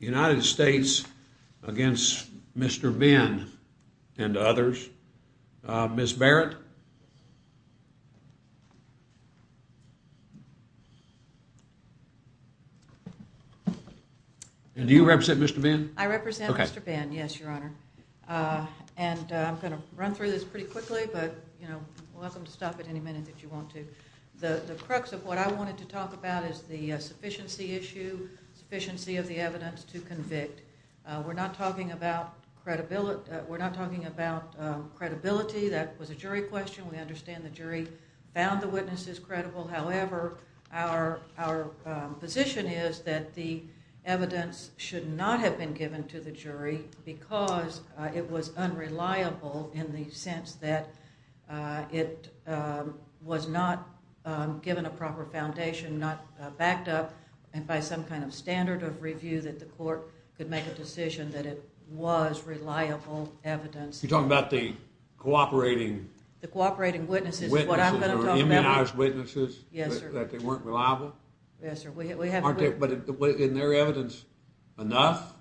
United States against Mr. Benn and others. Ms. Barrett? Do you represent Mr. Benn? I represent Mr. Benn, yes, Your Honor. And I'm going to run through this pretty quickly, but, you know, you're welcome to stop at any minute if you want to. The crux of what I wanted to talk about is the sufficiency issue, sufficiency of the evidence to convict. We're not talking about credibility. That was a jury question. We understand the jury found the witnesses credible. However, our position is that the evidence should not have been given to the jury because it was unreliable in the sense that it was not given a proper foundation, not backed up by some kind of standard of review that the court could make a decision that it was reliable evidence. You're talking about the cooperating? The cooperating witnesses is what I'm going to talk about. Witnesses or immunized witnesses? Yes, sir. That they weren't reliable? Yes, sir. But isn't their evidence enough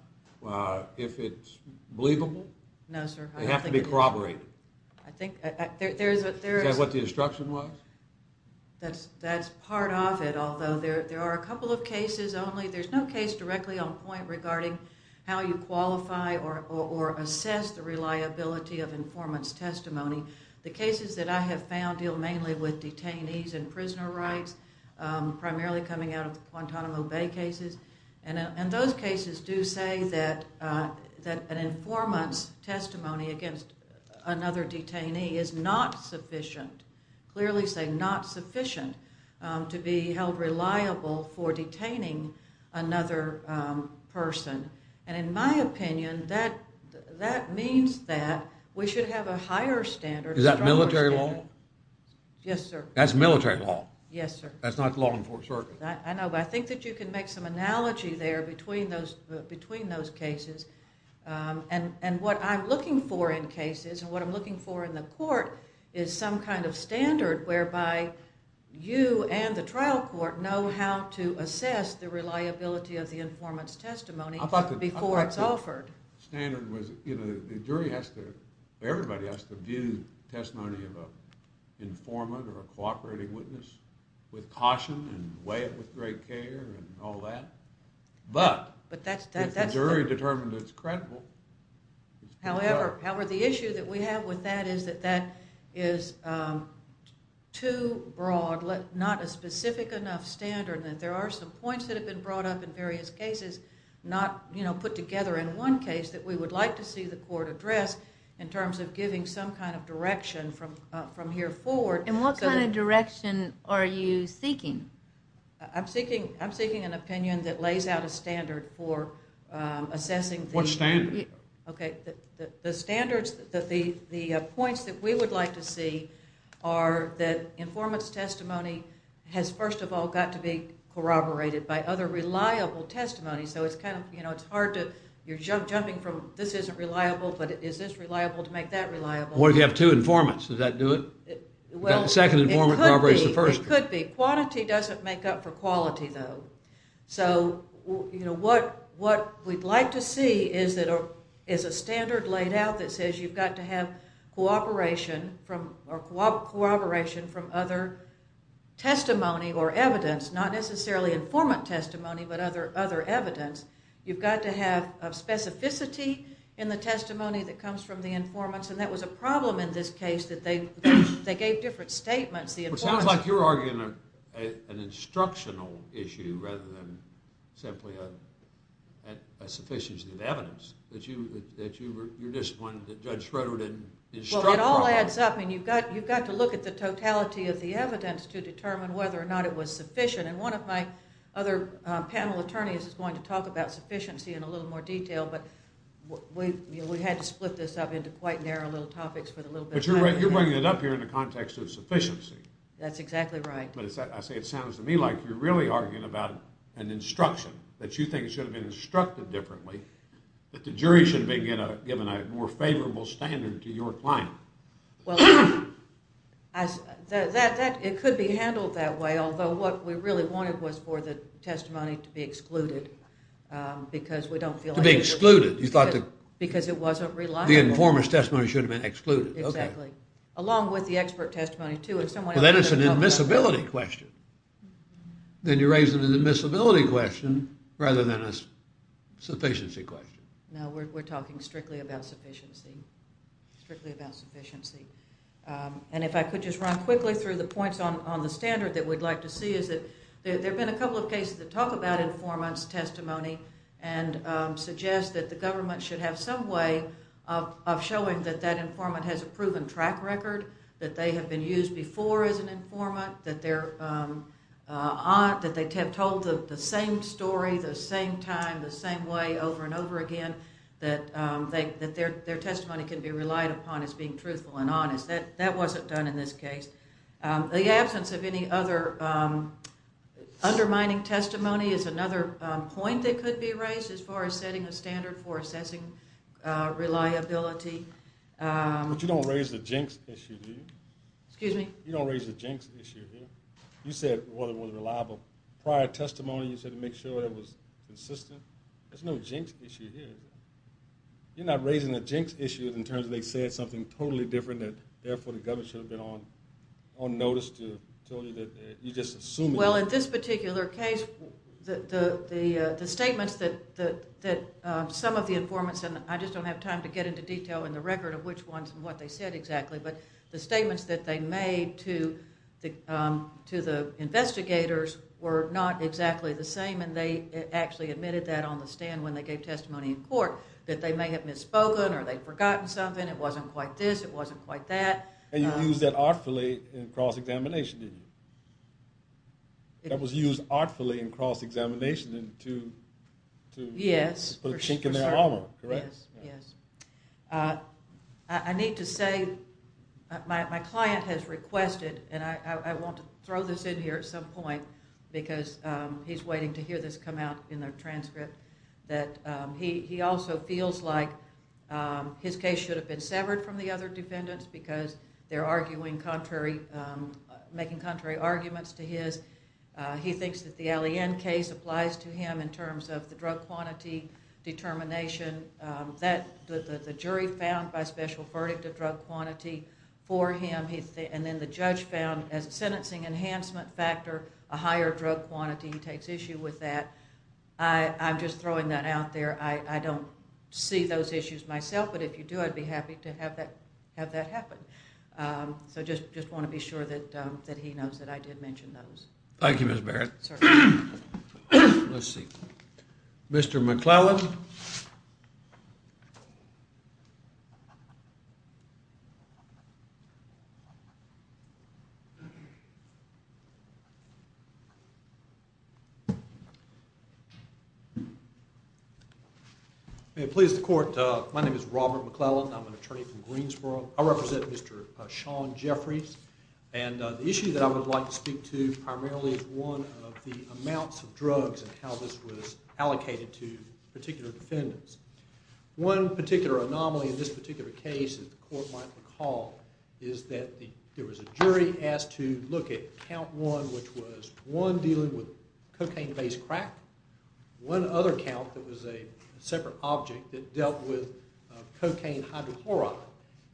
if it's believable? No, sir. They have to be corroborated. I think there's a... Is that what the instruction was? That's part of it, although there are a couple of cases only. There's no case directly on point regarding how you qualify or assess the reliability of informant's testimony. The cases that I have found deal mainly with detainees and prisoner rights, primarily coming out of the Guantanamo Bay cases. Those cases do say that an informant's testimony against another detainee is not sufficient. Clearly saying not sufficient to be held reliable for detaining another person. In my opinion, that means that we should have a higher standard. Is that military law? Yes, sir. That's military law? Yes, sir. That's not law enforcement? I know, but I think that you can make some analogy there between those cases. What I'm looking for in cases and what I'm looking for in the court is some kind of standard whereby you and the trial court know how to assess the reliability of the informant's testimony before it's offered. I thought the standard was the jury has to... Everybody has to view testimony of an informant or a cooperating witness with caution and weigh it with great care and all that. But if the jury determined it's credible... However, the issue that we have with that is that that is too broad, not a specific enough standard, that there are some points that have been brought up in various cases not put together in one case that we would like to see the court address in terms of giving some kind of direction from here forward. And what kind of direction are you seeking? I'm seeking an opinion that lays out a standard for assessing... What standard? Okay, the standards, the points that we would like to see are that informant's testimony has, first of all, got to be corroborated by other reliable testimony. So it's kind of, you know, it's hard to... You're jumping from this isn't reliable, but is this reliable to make that reliable? What if you have two informants? Does that do it? The second informant corroborates the first one. It could be. Quantity doesn't make up for quality, though. So, you know, what we'd like to see is a standard laid out that says you've got to have cooperation from other testimony or evidence, not necessarily informant testimony, but other evidence. You've got to have a specificity in the testimony that comes from the informants, and that was a problem in this case that they gave different statements. Well, it sounds like you're arguing an instructional issue rather than simply a sufficiency of evidence, that you're disappointed that Judge Schroeder didn't instruct... Well, it all adds up, and you've got to look at the totality of the evidence to determine whether or not it was sufficient, and one of my other panel attorneys is going to talk about sufficiency in a little more detail, but we had to split this up into quite narrow little topics for a little bit of time. But you're bringing it up here in the context of sufficiency. That's exactly right. But I say it sounds to me like you're really arguing about an instruction that you think should have been instructed differently, that the jury should be given a more favorable standard to your client. Well, it could be handled that way, although what we really wanted was for the testimony to be excluded because we don't feel like... To be excluded, you thought the... Because it wasn't reliable. The informant's testimony should have been excluded. Exactly. Along with the expert testimony, too. Then it's an admissibility question. Then you're raising an admissibility question rather than a sufficiency question. No, we're talking strictly about sufficiency. Strictly about sufficiency. And if I could just run quickly through the points on the standard that we'd like to see is that there have been a couple of cases that talk about informant's testimony and suggest that the government should have some way of showing that that informant has a proven track record, that they have been used before as an informant, that they have told the same story, the same time, the same way, over and over again, that their testimony can be relied upon as being truthful and honest. That wasn't done in this case. The absence of any other undermining testimony is another point that could be raised as far as setting a standard for assessing reliability. But you don't raise the jinx issue, do you? Excuse me? You don't raise the jinx issue here. You said it wasn't reliable. Prior testimony, you said to make sure it was consistent. There's no jinx issue here. You're not raising the jinx issue in terms of they said something totally different and therefore the government should have been on notice to tell you that you're just assuming. Well, in this particular case, the statements that some of the informants, and I just don't have time to get into detail in the record of which ones and what they said exactly, but the statements that they made to the investigators were not exactly the same, and they actually admitted that on the stand when they gave testimony in court, that they may have misspoken or they'd forgotten something, it wasn't quite this, it wasn't quite that. And you used that artfully in cross-examination, didn't you? That was used artfully in cross-examination to put a chink in their armor, correct? Yes. I need to say my client has requested, and I want to throw this in here at some point because he's waiting to hear this come out in their transcript, that he also feels like his case should have been severed from the other defendants because they're making contrary arguments to his. He thinks that the Alleyn case applies to him in terms of the drug quantity determination. The jury found by special verdict a drug quantity for him, and then the judge found, as a sentencing enhancement factor, a higher drug quantity. He takes issue with that. I'm just throwing that out there. I don't see those issues myself, but if you do, I'd be happy to have that happen. So I just want to be sure that he knows that I did mention those. Thank you, Ms. Barrett. Certainly. Let's see. Mr. McClellan. Mr. McClellan. May it please the court, my name is Robert McClellan. I'm an attorney from Greensboro. I represent Mr. Sean Jeffries, and the issue that I would like to speak to primarily is one of the amounts of drugs and how this was allocated to particular defendants. One particular anomaly in this particular case, as the court might recall, is that there was a jury asked to look at count one, which was one dealing with cocaine-based crack, one other count that was a separate object that dealt with cocaine hydrochloride,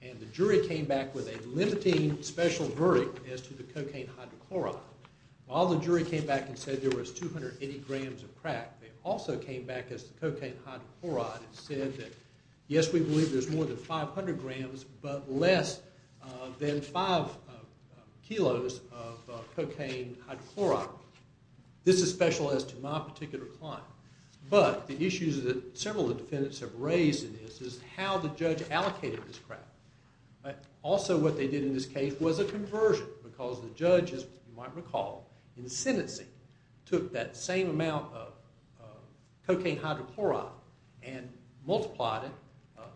and the jury came back with a limiting special verdict as to the cocaine hydrochloride. While the jury came back and said there was 280 grams of crack, they also came back as to cocaine hydrochloride and said that, yes, we believe there's more than 500 grams, but less than 5 kilos of cocaine hydrochloride. This is special as to my particular client. But the issues that several of the defendants have raised in this is how the judge allocated this crack. Also what they did in this case was a conversion, because the judge, as you might recall, in the sentencing, took that same amount of cocaine hydrochloride and multiplied it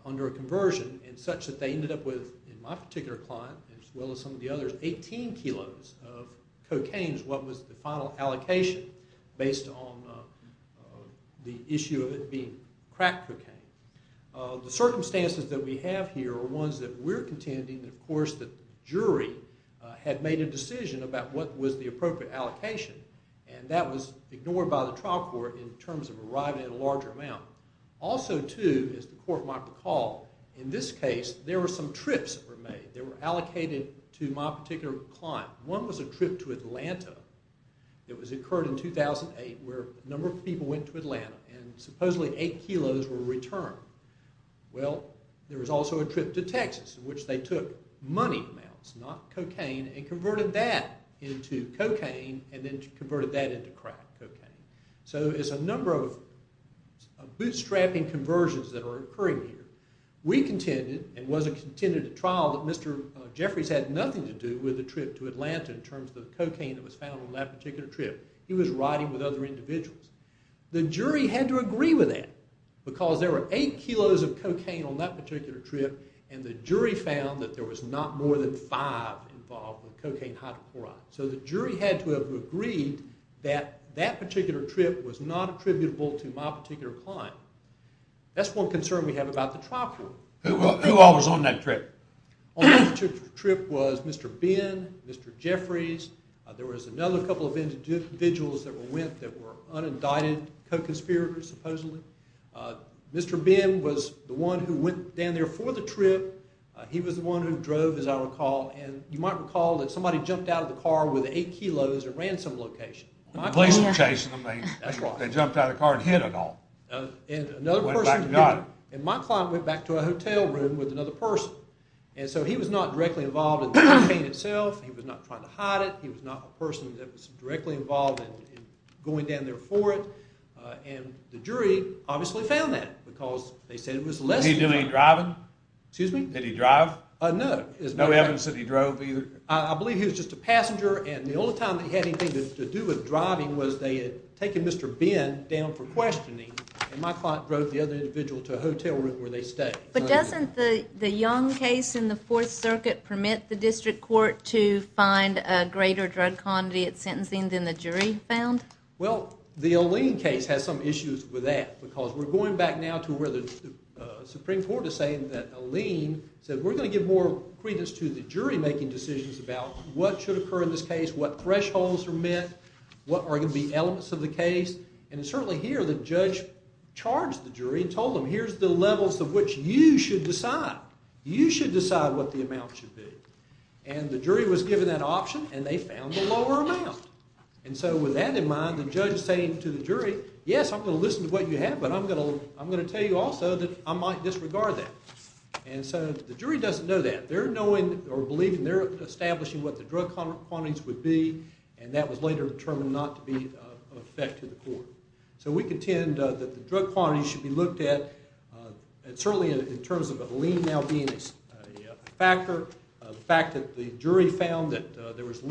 under a conversion in such that they ended up with, in my particular client as well as some of the others, 18 kilos of cocaine as what was the final allocation based on the issue of it being crack cocaine. The circumstances that we have here are ones that we're contending, of course, that the jury had made a decision about what was the appropriate allocation, and that was ignored by the trial court in terms of arriving at a larger amount. Also, too, as the court might recall, in this case there were some trips that were made. They were allocated to my particular client. One was a trip to Atlanta. It occurred in 2008, where a number of people went to Atlanta, and supposedly 8 kilos were returned. Well, there was also a trip to Texas, in which they took money amounts, not cocaine, and converted that into cocaine and then converted that into crack cocaine. So there's a number of bootstrapping conversions that are occurring here. We contended, and was contending at trial, that Mr. Jeffries had nothing to do with the trip to Atlanta in terms of the cocaine that was found on that particular trip. He was riding with other individuals. The jury had to agree with that because there were 8 kilos of cocaine on that particular trip, and the jury found that there was not more than 5 involved with cocaine hydrochloride. So the jury had to have agreed that that particular trip was not attributable to my particular client. That's one concern we have about the trial court. Who all was on that trip? On that trip was Mr. Ben, Mr. Jeffries. There was another couple of individuals that went that were unindicted co-conspirators, supposedly. Mr. Ben was the one who went down there for the trip. He was the one who drove, as I recall. And you might recall that somebody jumped out of the car with 8 kilos at a ransom location. When the police were chasing them, they jumped out of the car and hid it all. Went back and got it. And my client went back to a hotel room with another person. And so he was not directly involved in the cocaine itself. He was not trying to hide it. He was not a person that was directly involved in going down there for it. And the jury obviously found that because they said it was less than one. Did he do any driving? Excuse me? Did he drive? No. There's no evidence that he drove either? I believe he was just a passenger. And the only time that he had anything to do with driving was they had taken Mr. Ben down for questioning. And my client drove the other individual to a hotel room where they stayed. But doesn't the Young case in the Fourth Circuit permit the district court to find a greater drug quantity at sentencing than the jury found? Well, the Alene case has some issues with that because we're going back now to where the Supreme Court is saying that Alene said, we're going to give more credence to the jury making decisions about what should occur in this case, what thresholds are met, what are going to be elements of the case. And certainly here, the judge charged the jury and told them, here's the levels of which you should decide. You should decide what the amount should be. And the jury was given that option, and they found a lower amount. And so with that in mind, the judge saying to the jury, yes, I'm going to listen to what you have, but I'm going to tell you also that I might disregard that. And so the jury doesn't know that. They're knowing or believing they're establishing what the drug quantities would be, and that was later determined not to be of effect to the court. So we contend that the drug quantities should be looked at, certainly in terms of Alene now being a factor, the fact that the jury found that there was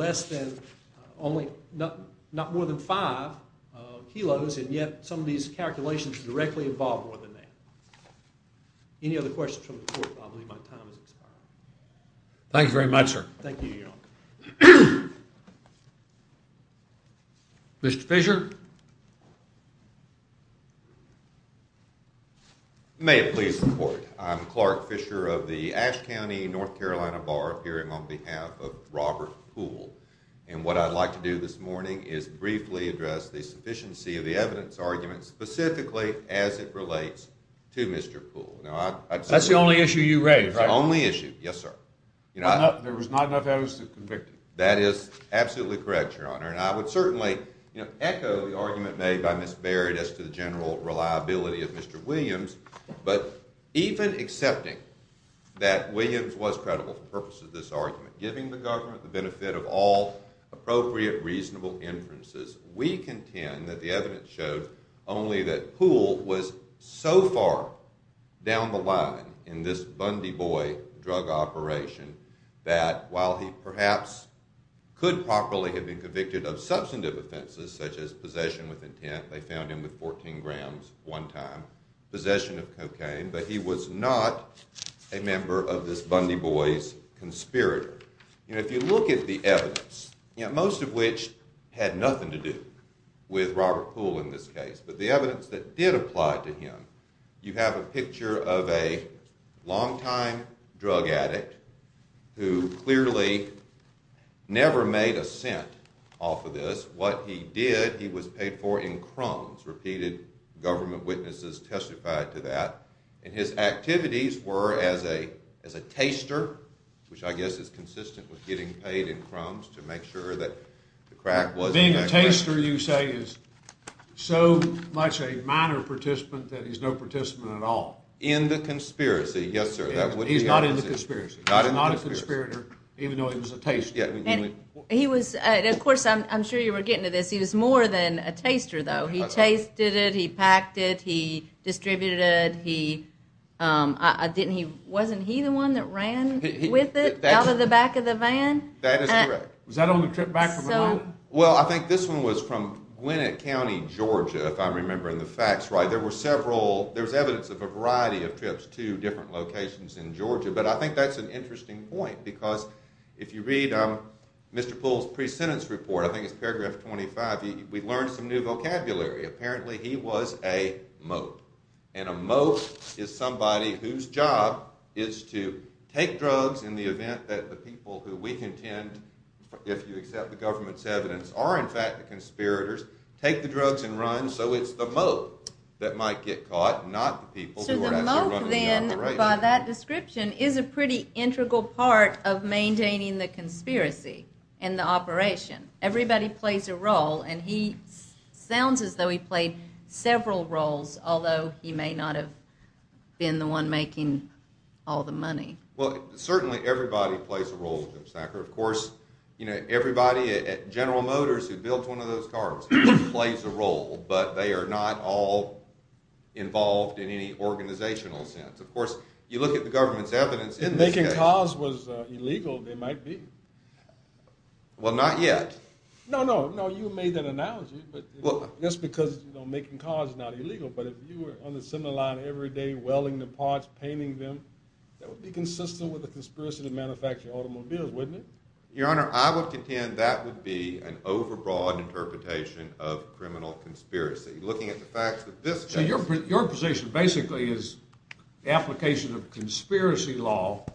not more than five kilos, and yet some of these calculations directly involve more than that. Any other questions from the court? I believe my time has expired. Thank you very much, sir. Thank you, Your Honor. Mr. Fisher? May it please the court. I'm Clark Fisher of the Ashe County, North Carolina Bar hearing on behalf of Robert Poole. And what I'd like to do this morning is briefly address the sufficiency of the evidence argument, specifically as it relates to Mr. Poole. That's the only issue you raised, right? The only issue. Yes, sir. There was not enough evidence to convict him. That is absolutely correct, Your Honor. And I would certainly echo the argument made by Ms. Barrett as to the general reliability of Mr. Williams. But even accepting that Williams was not credible for the purpose of this argument, giving the government the benefit of all appropriate reasonable inferences, we contend that the evidence showed only that Poole was so far down the line in this Bundy boy drug operation that while he perhaps could properly have been convicted of substantive offenses, such as possession with intent. They found him with 14 grams one time, possession of cocaine. But he was not a member of this Bundy boy's conspirator. If you look at the evidence, most of which had nothing to do with Robert Poole in this case. But the evidence that did apply to him, you have a picture of a longtime drug addict who clearly never made a cent off of this. What he did, he was paid for in crumbs. Repeated government witnesses testified to that. And his activities were as a taster, which I guess is consistent with getting paid in crumbs to make sure that the crack wasn't there. Being a taster, you say, is so much a minor participant that he's no participant at all. In the conspiracy, yes, sir. He's not in the conspiracy. He's not a conspirator, even though he was a taster. Of course, I'm sure you were getting to this. He was more than a taster, though. He tasted it. He packed it. He distributed it. Wasn't he the one that ran with it out of the back of the van? That is correct. Was that on the trip back from Atlanta? Well, I think this one was from Gwinnett County, Georgia, if I'm remembering the facts right. There was evidence of a variety of trips to different locations in Georgia. But I think that's an interesting point. Because if you read Mr. Poole's pre-sentence report, I think it's paragraph 25, we learned some new vocabulary. Apparently, he was a moat. And a moat is somebody whose job is to take drugs in the event that the people who we contend, if you accept the government's evidence, are in fact the conspirators, take the drugs and run. So it's the moat that might get caught, not the people who are actually running the operation. So the moat, then, by that description, and the operation. Everybody plays a role. And he sounds as though he played several roles, although he may not have been the one making all the money. Well, certainly everybody plays a role, Jim Snacker. Of course, everybody at General Motors who built one of those cars plays a role. But they are not all involved in any organizational sense. Of course, you look at the government's evidence. If making cars was illegal, they might be. Well, not yet. No, no. No, you made that analogy. That's because making cars is not illegal. But if you were on the assembly line every day welding the parts, painting them, that would be consistent with the conspiracy to manufacture automobiles, wouldn't it? Your Honor, I would contend that would be an overbroad interpretation of criminal conspiracy, looking at the facts of this case. So your position basically is the application of conspiracy law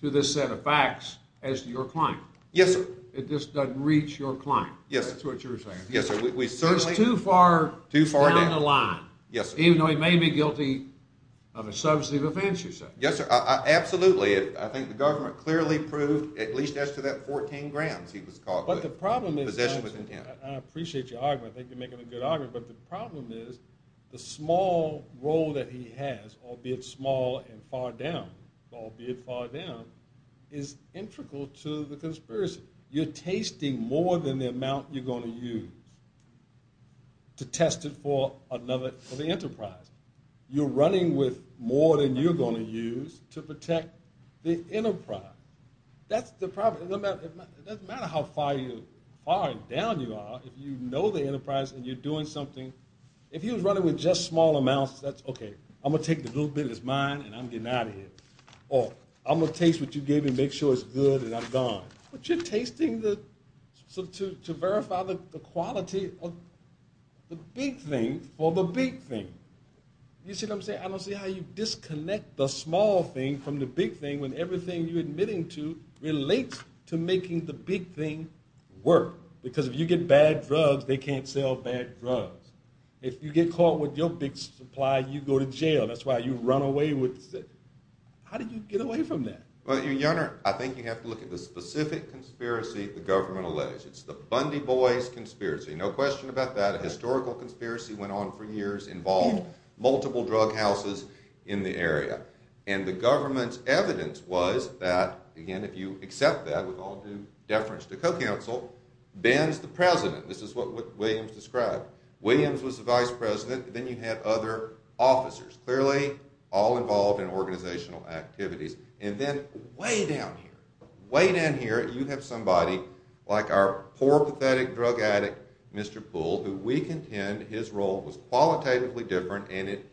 to this set of facts as to your client. Yes, sir. It just doesn't reach your client. That's what you're saying. Yes, sir. It's too far down the line. Yes, sir. Even though he may be guilty of a substantive offense, you say. Yes, sir. Absolutely. I think the government clearly proved, at least as to that 14 grams he was caught with, possession with intent. I appreciate your argument. I think you're making a good argument. But the problem is the small role that he has, albeit small and far down, albeit far down, is integral to the conspiracy. You're tasting more than the amount you're going to use to test it for the enterprise. You're running with more than you're going to use to protect the enterprise. That's the problem. It doesn't matter how far you are and down you are. If you know the enterprise and you're doing something, if he was running with just small amounts, that's OK. I'm going to take the little bit that's mine and I'm getting out of here. Or I'm going to taste what you gave me and make sure it's good and I'm gone. But you're tasting to verify the quality of the big thing for the big thing. You see what I'm saying? I don't see how you disconnect the small thing from the big thing when everything you're admitting to relates to making the big thing work. Because if you get bad drugs, they can't sell bad drugs. If you get caught with your big supply, you go to jail. That's why you run away. How do you get away from that? Your Honor, I think you have to look at the specific conspiracy the government alleged. It's the Bundy Boys conspiracy. No question about that. A historical conspiracy went on for years involving multiple drug houses in the area. And the government's evidence was that, again, if you accept that, with all due deference to co-counsel, Ben's the president. This is what Williams described. Williams was the vice president. Then you have other officers, clearly all involved in organizational activities. And then, way down here, way down here, you have somebody like our poor, pathetic drug addict, Mr. Poole, who we contend his role was qualitatively different and it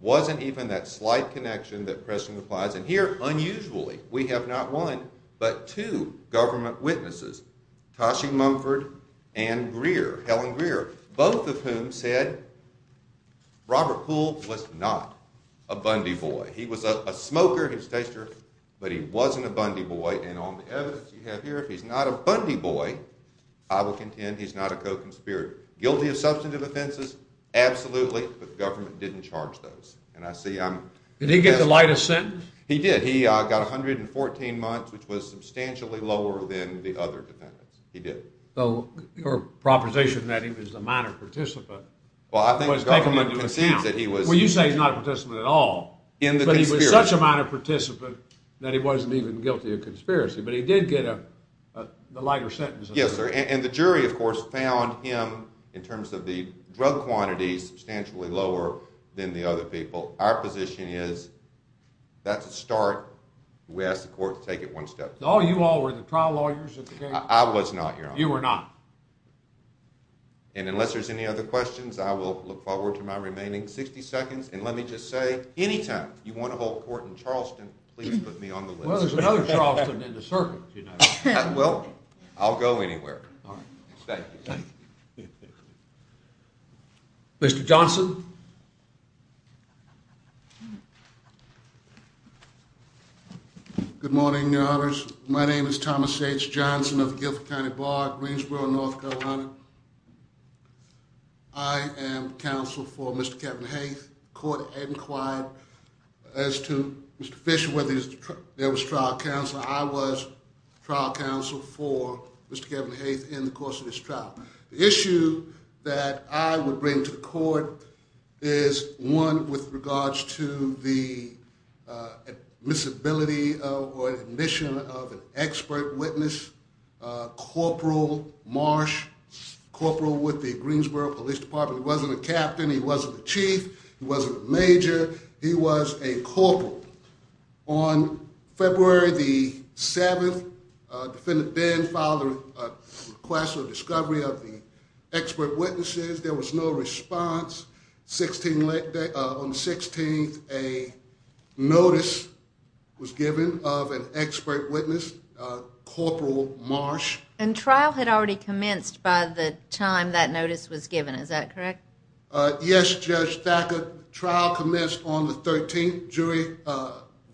wasn't even that slight connection that Preston applies. And here, unusually, we have not one, but two government witnesses, Toshi Mumford and Greer, Helen Greer, both of whom said Robert Poole was not a Bundy Boy. He was a smoker, he was a taster, but he wasn't a Bundy Boy. And on the evidence you have here, if he's not a Bundy Boy, I will contend he's not a co-conspirator. Guilty of substantive offenses? Absolutely. But the government didn't charge those. And I see I'm... Did he get the lightest sentence? He did. He got 114 months, which was substantially lower than the other defendants. He did. Your proposition that he was a minor participant... Well, I think the government concedes that he was... Well, you say he's not a participant at all. But he was such a minor participant that he wasn't even guilty of conspiracy. But he did get the lighter sentence. Yes, sir. And the jury, of course, found him, in terms of the drug quantity, substantially lower than the other people. Our position is that's a start. We ask the court to take it one step further. Oh, you all were the trial lawyers at the case? I was not, Your Honor. You were not. And unless there's any other questions, I will look forward to my remaining 60 seconds. And let me just say, anytime you want to hold court in Charleston, please put me on the list. Well, there's another Charleston in the circuit, you know. Well, I'll go anywhere. All right. Thank you. Mr. Johnson? Good morning, Your Honors. My name is Thomas H. Johnson of the Guilford County Bar at Greensboro, North Carolina. I am counsel for Mr. Kevin Haith. The court had inquired as to, Mr. Fisher, whether there was trial counsel. I was trial counsel for Mr. Kevin Haith in the course of this trial. The issue that I would bring to the court is, one, with regards to the admissibility or admission of an expert witness, Corporal Marsh, corporal with the Greensboro Police Department. He wasn't a captain. He wasn't a chief. He wasn't a major. He was a corporal. On February the 7th, Defendant Dan filed a request for discovery of the expert witnesses. There was no response. On the 16th, a notice was given of an expert witness, Corporal Marsh. And trial had already commenced by the time that notice was given. Is that correct? Yes, Judge Thacker. Trial commenced on the 13th. Jury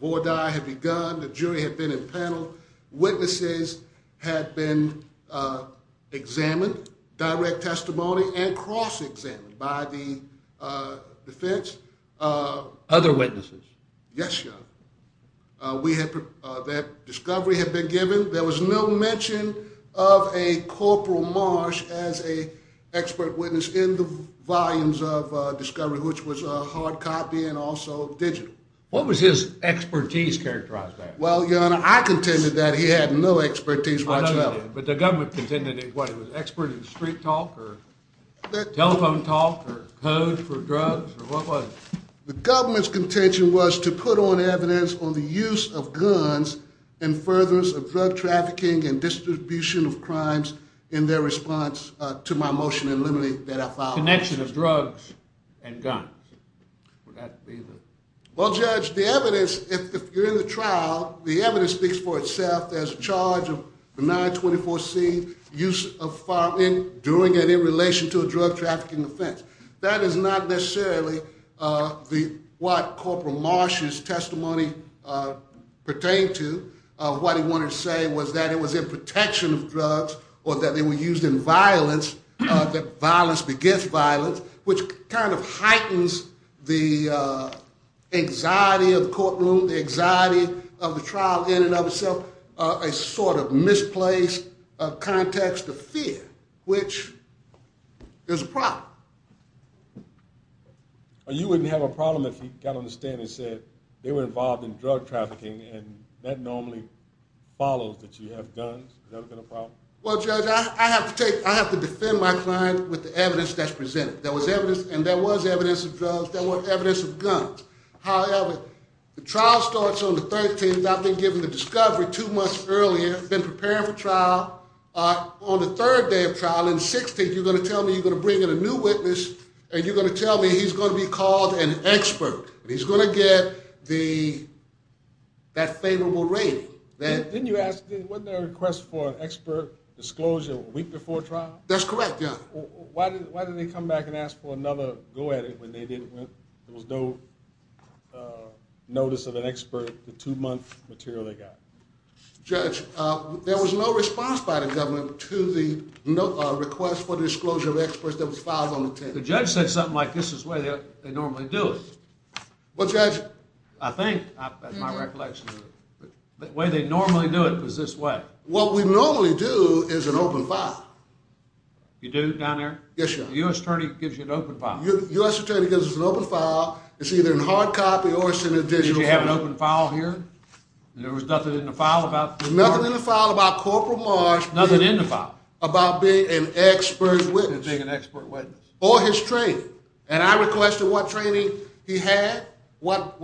vorti had begun. The jury had been impaneled. Witnesses had been examined, direct testimony, and cross-examined by the defense. Other witnesses? Yes, Your Honor. That discovery had been given. There was no mention of a Corporal Marsh as an expert witness in the volumes of discovery, which was hard copy and also digital. What was his expertise characterized by? Well, Your Honor, I contended that he had no expertise whatsoever. But the government contended that he was an expert in street talk or telephone talk or code for drugs or what was it? The government's contention was to put on evidence on the use of guns and furtherance of drug trafficking and distribution of crimes in their response to my motion in limine that I filed. Connection of drugs and guns. Would that be the... Well, Judge, the evidence, if you're in the trial, the evidence speaks for itself. There's a charge of benign 24C, doing it in relation to a drug trafficking offense. That is not necessarily what Corporal Marsh's testimony pertained to. What he wanted to say was that it was in protection of drugs or that they were used in violence, that violence begets violence, which kind of heightens the anxiety of the courtroom, the anxiety of the trial in and of itself, a sort of misplaced context of fear, which is a problem. You wouldn't have a problem if he got on the stand and said they were involved in drug trafficking and that normally follows that you have guns. Would that have been a problem? Well, Judge, I have to defend my client with the evidence that's presented. There was evidence, and there was evidence of drugs, there was evidence of guns. However, the trial starts on the 13th. He's not been given the discovery two months earlier, been preparing for trial. On the third day of trial, on the 16th, you're going to tell me you're going to bring in a new witness and you're going to tell me he's going to be called an expert. He's going to get that favorable rating. Didn't you ask, wasn't there a request for an expert disclosure a week before trial? That's correct, yeah. Why did they come back and ask for another go at it when there was no notice of an expert for the two-month material they got? Judge, there was no response by the government to the request for disclosure of experts that was filed on the 10th. The judge said something like this is the way they normally do it. What judge? I think, that's my recollection. The way they normally do it is this way. What we normally do is an open file. You do down there? Yes, Your Honor. The U.S. attorney gives you an open file. The U.S. attorney gives us an open file. It's either in hard copy or it's in a digital file. We have an open file here. There was nothing in the file about? Nothing in the file about Corporal Marsh Nothing in the file? About being an expert witness. Being an expert witness. Or his training. And I requested what training he had, what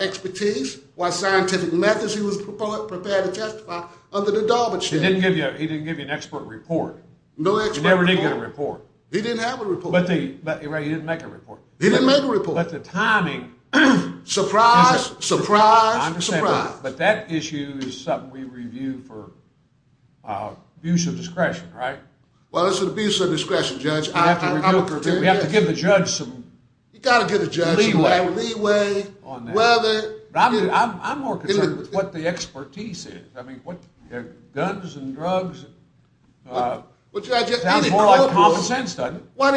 expertise, what scientific methods he was prepared to testify under the Daubert study. He didn't give you an expert report. No expert report. He never did get a report. He didn't have a report. Right, he didn't make a report. He didn't make a report. But the timing. Surprise, surprise, surprise. But that issue is something we review for abuse of discretion, right? Well, it's an abuse of discretion, Judge. We have to review it. We have to give the judge some leeway. You've got to give the judge some leeway. I'm more concerned with what the expertise is. I mean, guns and drugs. It sounds more like common sense, doesn't it? What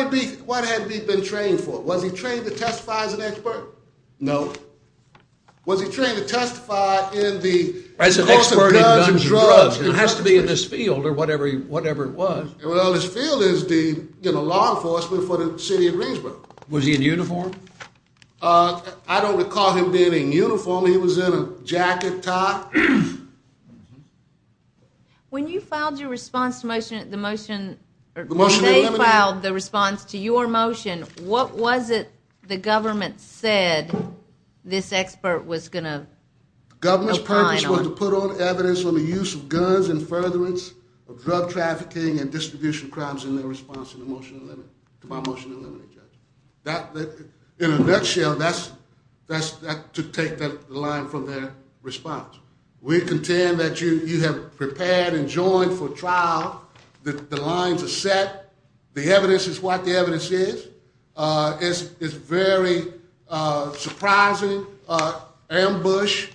had he been trained for? Was he trained to testify as an expert? No. Was he trained to testify in the course of guns and drugs? It has to be in this field or whatever it was. Well, this field is the law enforcement for the city of Greensboro. Was he in uniform? I don't recall him being in uniform. He was in a jacket top. When you filed your response to the motion, when they filed the response to your motion, what was it the government said this expert was going to opine on? The government's purpose was to put on evidence on the use of guns and furtherance of drug trafficking and distribution crimes in their response to my motion to eliminate, Judge. In a nutshell, that's to take the line from their response. We contend that you have prepared and joined for trial that the lines are set. The evidence is what the evidence is. It's a very surprising ambush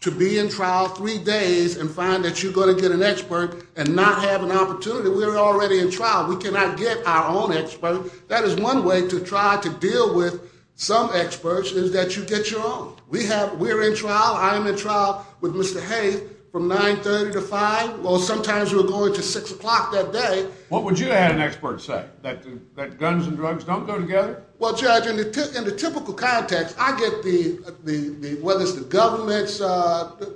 to be in trial three days and find that you're going to get an expert and not have an opportunity. We're already in trial. We cannot get our own expert. That is one way to try to deal with some experts is that you get your own. We're in trial. I'm in trial with Mr. Hay from 930 to 5. Well, sometimes we're going to 6 o'clock that day. What would you have an expert say? That guns and drugs don't go together? Well, Judge, in the typical context, I get whether it's the government's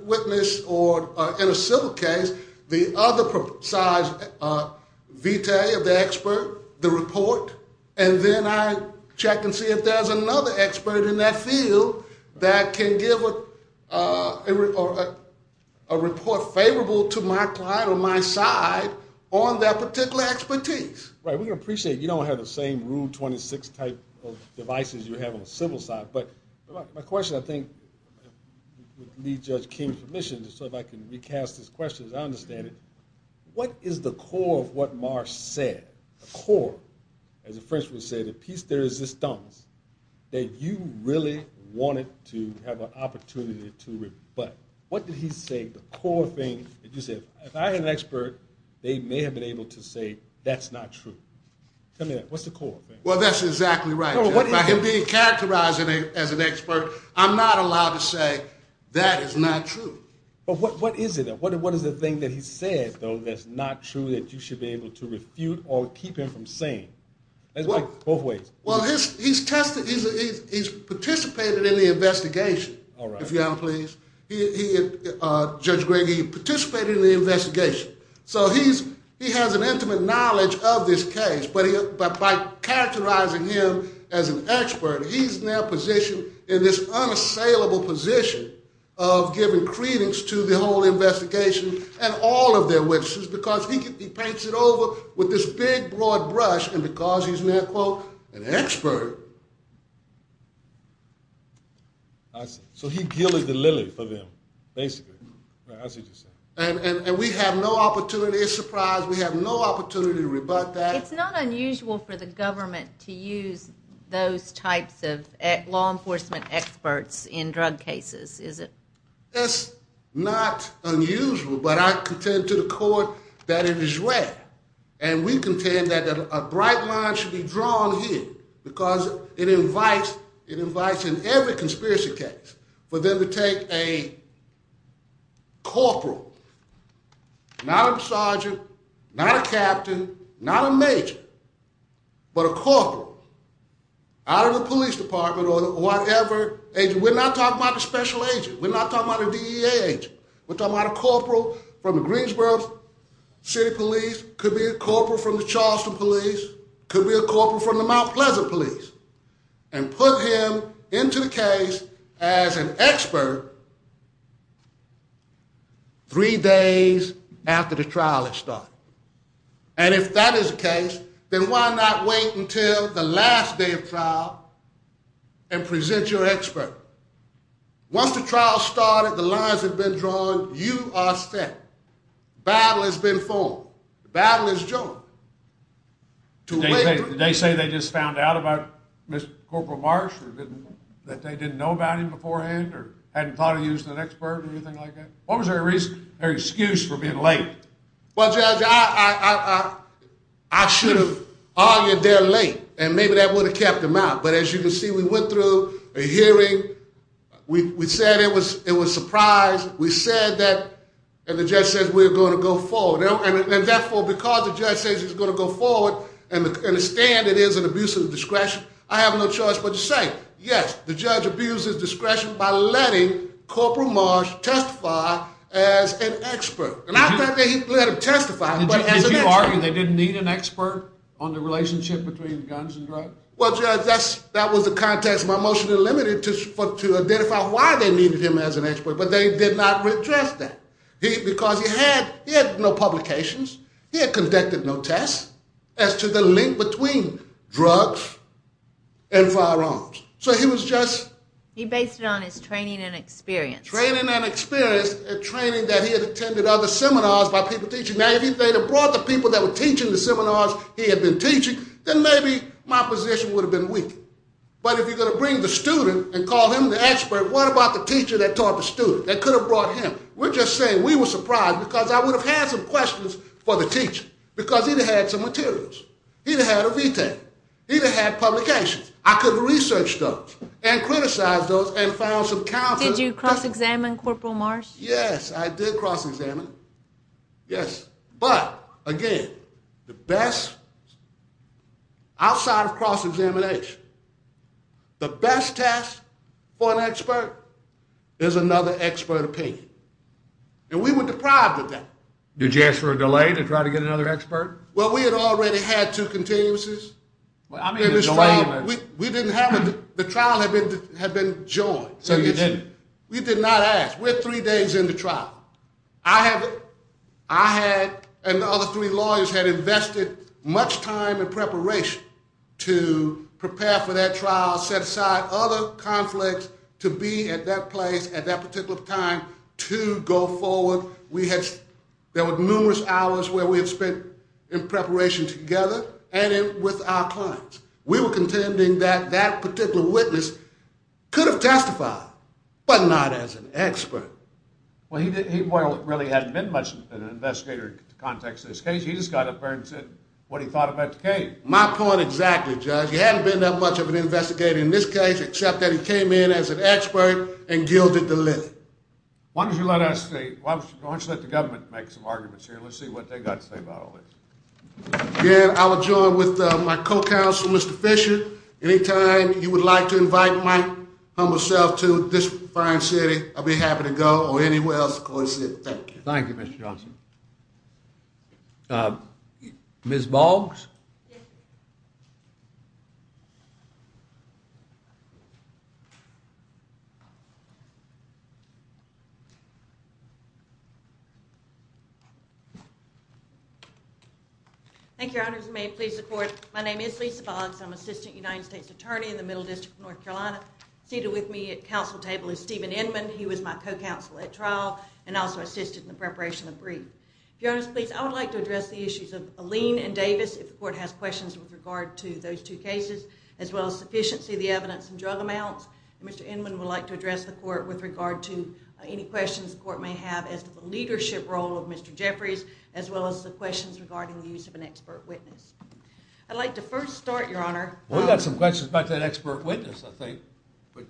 witness or in a civil case, the other precise vitae of the expert, the report, and then I check and see if there's another expert in that field that can give a report favorable to my client or my side on that particular expertise. Right. We're going to appreciate you don't have the same Rule 26 type of devices you have on the civil side. But my question, I think, would need Judge King's permission, just so I can recast this question as I understand it. What is the core of what Marsh said? The core, as the French would say, the piece de resistance, that you really wanted to have an opportunity to rebut. What did he say, the core thing that you said? If I had an expert, they may have been able to say that's not true. Tell me that. What's the core thing? Well, that's exactly right. By him being characterized as an expert, I'm not allowed to say that is not true. But what is it? What is the thing that he said, though, that's not true that you should be able to refute or keep him from saying? Both ways. Well, he's participated in the investigation. All right. If you'll allow me, please. Judge Gregg, he participated in the investigation. So he has an intimate knowledge of this case. But by characterizing him as an expert, he's now positioned in this unassailable position of giving credence to the whole investigation and all of their witnesses because he paints it over with this big, broad brush and because he's now, quote, an expert. I see. So he gillied the lily for them, basically. That's what you're saying. And we have no opportunity. It's a surprise. We have no opportunity to rebut that. It's not unusual for the government to use those types of law enforcement experts in drug cases, is it? That's not unusual. But I contend to the court that it is rare. And we contend that a bright line should be drawn here because it invites, in every conspiracy case, for them to take a corporal, not a sergeant, not a captain, not a major, but a corporal out of the police department or whatever. We're not talking about a special agent. We're not talking about a DEA agent. We're talking about a corporal from the Greensboro City Police, could be a corporal from the Charleston Police, could be a corporal from the Mount Pleasant Police, and put him into the case as an expert three days after the trial had started. And if that is the case, then why not wait until the last day of trial and present your expert? Once the trial started, the lines had been drawn, you are set. The battle has been formed. The battle is joined. Did they say they just found out about Mr. Corporal Marsh that they didn't know about him beforehand or hadn't thought of using an expert or anything like that? What was their excuse for being late? Well, Judge, I should have argued they're late, and maybe that would have kept them out. But as you can see, we went through a hearing. We said it was a surprise. We said that, and the judge says we're going to go forward. And therefore, because the judge says he's going to go forward and understand it is an abuse of discretion, I have no choice but to say, yes, the judge abused his discretion by letting Corporal Marsh testify as an expert. Not that they let him testify, but as an expert. Did you argue they didn't need an expert on the relationship between guns and drugs? Well, Judge, that was the context. My motion eliminated to identify why they needed him as an expert, but they did not redress that. Because he had no publications. He had conducted no tests as to the link between drugs and firearms. So he was just... He based it on his training and experience. Training and experience, a training that he had attended other seminars by people teaching. Now, if he had brought the people that were teaching the seminars because he had been teaching, then maybe my position would have been weakened. But if you're going to bring the student and call him the expert, what about the teacher that taught the student, that could have brought him? We're just saying we were surprised because I would have had some questions for the teacher because he'd have had some materials. He'd have had a VTAC. He'd have had publications. I could have researched those and criticized those and found some counter... Did you cross-examine Corporal Marsh? Yes, I did cross-examine him. Yes. But, again, the best... Outside of cross-examination, the best test for an expert is another expert opinion. And we were deprived of that. Did you ask for a delay to try to get another expert? Well, we had already had two continuances. I mean, a delay... We didn't have... The trial had been joined. So you didn't... We did not ask. We're three days into trial. I had... I had... And the other three lawyers had invested much time in preparation to prepare for that trial, set aside other conflicts to be at that place at that particular time to go forward. We had... There were numerous hours where we had spent in preparation together and with our clients. We were contending that that particular witness could have testified, but not as an expert. Well, he didn't... He really hadn't been much of an investigator in the context of this case. He just got up there and said what he thought about the case. My point exactly, Judge. He hadn't been that much of an investigator in this case, except that he came in as an expert and gilded the lip. Why don't you let us... Why don't you let the government make some arguments here? Let's see what they've got to say about all this. Again, I will join with my co-counsel, Mr. Fisher. Anytime you would like to invite my humble self to this fine city, I'll be happy to go or anywhere else, of course. Thank you. Thank you, Mr. Johnson. Ms. Boggs? Yes, sir. Thank you, Your Honors. May it please the Court. My name is Lisa Boggs. I'm Assistant United States Attorney in the Middle District of North Carolina. Seated with me at council table is Stephen Inman. He was my co-counsel at trial and also assisted in the preparation of brief. If Your Honors please, I would like to address the issues of Alene and Davis if the Court has questions with regard to those two cases, as well as sufficiency of the evidence and drug amounts. Mr. Inman would like to address the Court with regard to any questions the Court may have as to the leadership role of Mr. Jeffries, as well as the questions regarding the use of an expert witness. I'd like to first start, Your Honor... We've got some questions about that expert witness, I think. But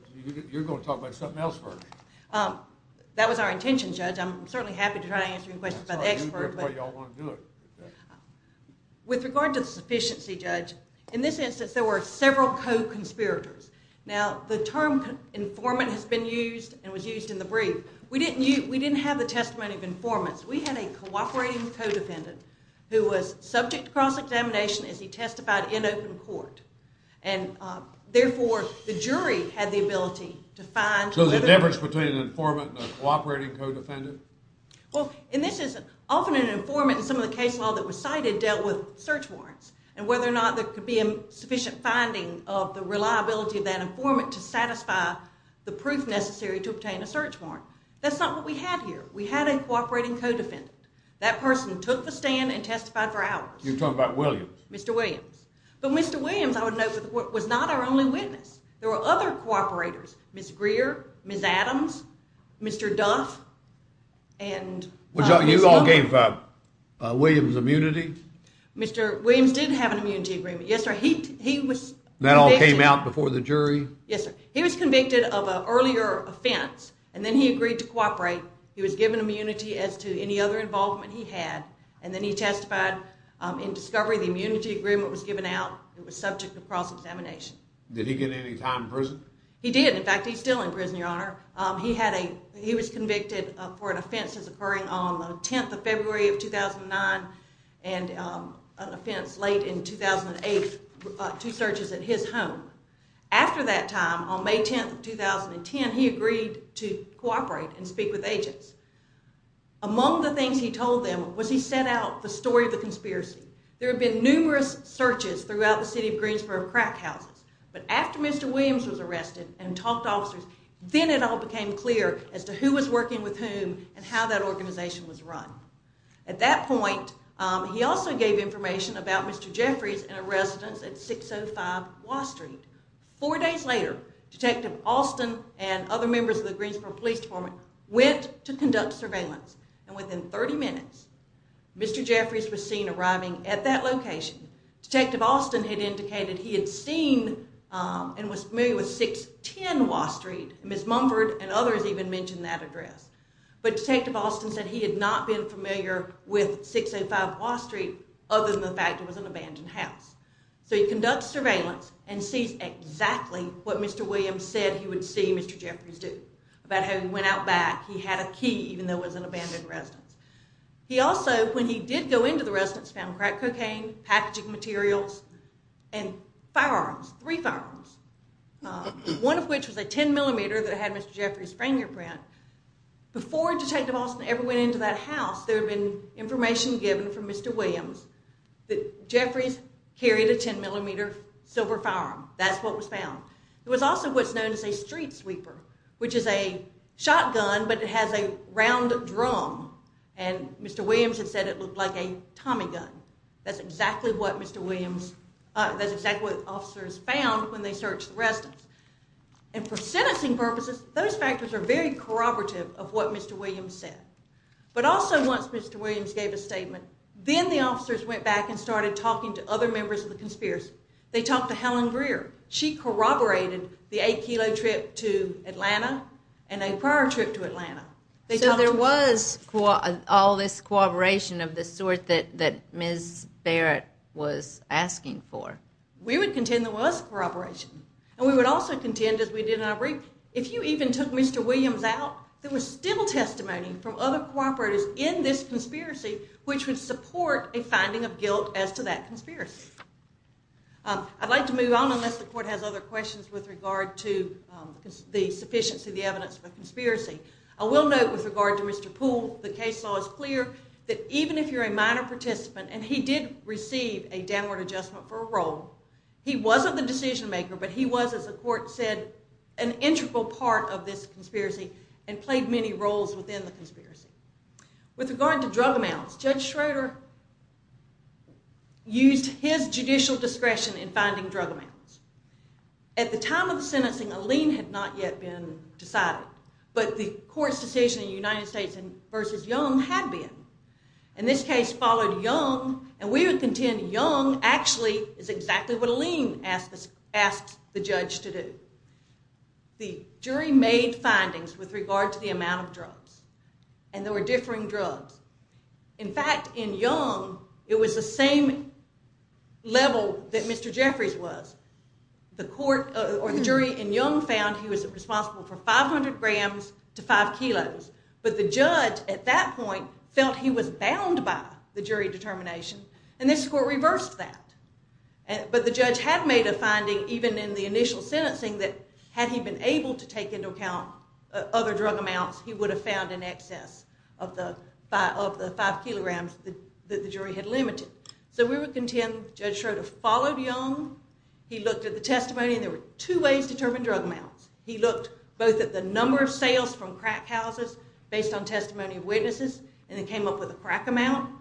you're going to talk about something else first. That was our intention, Judge. I'm certainly happy to try to answer any questions about the expert. That's how you do it, but you don't want to do it. With regard to the sufficiency, Judge, in this instance there were several co-conspirators. Now, the term informant has been used and was used in the brief. We didn't have the testimony of informants. We had a cooperating co-defendant who was subject to cross-examination as he testified in open court. And, therefore, the jury had the ability to find... So the difference between an informant and a cooperating co-defendant? Well, and this is... Often an informant in some of the case law that was cited dealt with search warrants and whether or not there could be sufficient finding of the reliability of that informant to satisfy the proof necessary to obtain a search warrant. That's not what we had here. We had a cooperating co-defendant. That person took the stand and testified for hours. You're talking about Williams. Mr. Williams. But Mr. Williams, I would note, was not our only witness. There were other cooperators. Ms. Greer, Ms. Adams, Mr. Duff, and... You all gave Williams immunity? Mr. Williams did have an immunity agreement, yes, sir. He was convicted... That all came out before the jury? Yes, sir. He was convicted of an earlier offense and then he agreed to cooperate. He was given immunity as to any other involvement he had and then he testified in discovery the immunity agreement was given out. It was subject to cross-examination. Did he get any time in prison? He did. In fact, he's still in prison, Your Honor. He was convicted for an offense that's occurring on the 10th of February of 2009 and an offense late in 2008, two searches at his home. After that time, on May 10th of 2010, he agreed to cooperate and speak with agents. Among the things he told them was he set out the story of the conspiracy. There had been numerous searches throughout the city of Greensboro of crack houses, but after Mr. Williams was arrested and talked to officers, then it all became clear as to who was working with whom and how that organization was run. At that point, he also gave information about Mr. Jeffries in a residence at 605 Watt Street. Four days later, Detective Austin and other members of the Greensboro Police Department went to conduct surveillance, and within 30 minutes, Mr. Jeffries was seen arriving at that location. Detective Austin had indicated he had seen and was familiar with 610 Watt Street. Ms. Mumford and others even mentioned that address. But Detective Austin said he had not been familiar with 605 Watt Street other than the fact it was an abandoned house. So he conducts surveillance and sees exactly what Mr. Williams said he would see Mr. Jeffries do about how he went out back, he had a key, even though it was an abandoned residence. He also, when he did go into the residence, found crack cocaine, packaging materials, and firearms, three firearms, one of which was a 10-millimeter that had Mr. Jeffries' frame ear print. Before Detective Austin ever went into that house, there had been information given from Mr. Williams that Jeffries carried a 10-millimeter silver firearm. That's what was found. There was also what's known as a street sweeper, which is a shotgun, but it has a round drum, and Mr. Williams had said it looked like a Tommy gun. That's exactly what Mr. Williams... That's exactly what officers found when they searched the residence. And for sentencing purposes, those factors are very corroborative of what Mr. Williams said. But also, once Mr. Williams gave a statement, then the officers went back and started talking to other members of the conspiracy. They talked to Helen Greer. She corroborated the 8-kilo trip to Atlanta and a prior trip to Atlanta. So there was all this corroboration of the sort that Ms. Barrett was asking for. We would contend there was corroboration, and we would also contend, as we did in our brief, if you even took Mr. Williams out, there was still testimony from other cooperatives in this conspiracy, which would support a finding of guilt as to that conspiracy. I'd like to move on, unless the court has other questions with regard to the sufficiency of the evidence of a conspiracy. I will note, with regard to Mr. Poole, the case law is clear that even if you're a minor participant, and he did receive a downward adjustment for a role, he wasn't the decision-maker, but he was, as the court said, an integral part of this conspiracy and played many roles within the conspiracy. With regard to drug amounts, Judge Schroeder used his judicial discretion in finding drug amounts. At the time of the sentencing, a lien had not yet been decided, but the court's decision in the United States versus Young had been. And this case followed Young, and we would contend Young actually is exactly what a lien asked the judge to do. The jury made findings with regard to the amount of drugs, and there were differing drugs. In fact, in Young, it was the same level that Mr. Jeffries was. The court, or the jury in Young, found he was responsible for 500 grams to 5 kilos, but the judge at that point felt he was bound by the jury determination, and this court reversed that. But the judge had made a finding, even in the initial sentencing, that had he been able to take into account other drug amounts, he would have found in excess of the 5 kilograms that the jury had limited. So we would contend Judge Schroeder followed Young. He looked at the testimony, and there were two ways to determine drug amounts. He looked both at the number of sales from crack houses based on testimony of witnesses, and he came up with a crack amount.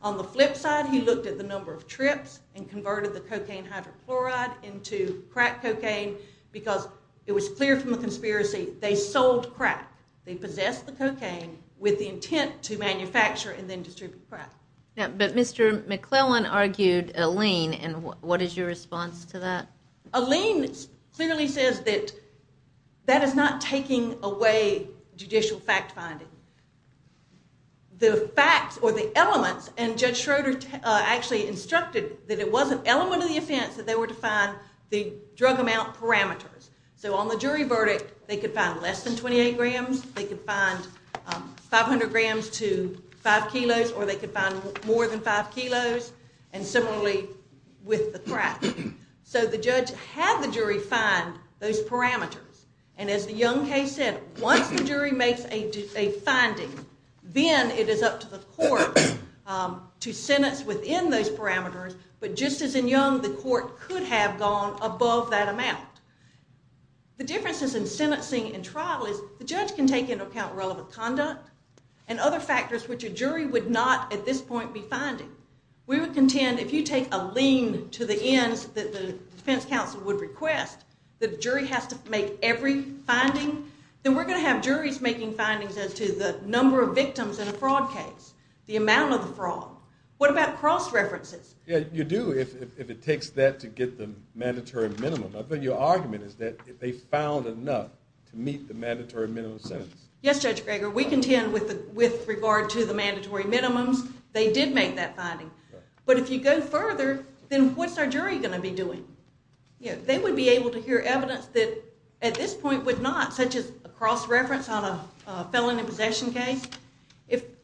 On the flip side, he looked at the number of trips and converted the cocaine hydrochloride into crack cocaine because it was clear from the conspiracy they sold crack. They possessed the cocaine with the intent to manufacture and then distribute crack. But Mr. McClellan argued a lien, and what is your response to that? A lien clearly says that that is not taking away judicial fact-finding. The facts or the elements, and Judge Schroeder actually instructed that it was an element of the offense that they were to find the drug amount parameters. So on the jury verdict, they could find less than 28 grams, they could find 500 grams to 5 kilos, or they could find more than 5 kilos, and similarly with the crack. So the judge had the jury find those parameters, and as the Young case said, once the jury makes a finding, then it is up to the court to sentence within those parameters, but just as in Young, the court could have gone above that amount. The differences in sentencing and trial is the judge can take into account relevant conduct and other factors which a jury would not at this point be finding. We would contend if you take a lien to the ends that the defense counsel would request, the jury has to make every finding, then we're going to have juries making findings as to the number of victims in a fraud case, the amount of the fraud. What about cross-references? Yeah, you do if it takes that to get the mandatory minimum. I think your argument is that if they found enough to meet the mandatory minimum sentence. Yes, Judge Greger. We contend with regard to the mandatory minimums. They did make that finding. But if you go further, then what's our jury going to be doing? They would be able to hear evidence that at this point would not, such as a cross-reference on a felon in possession case.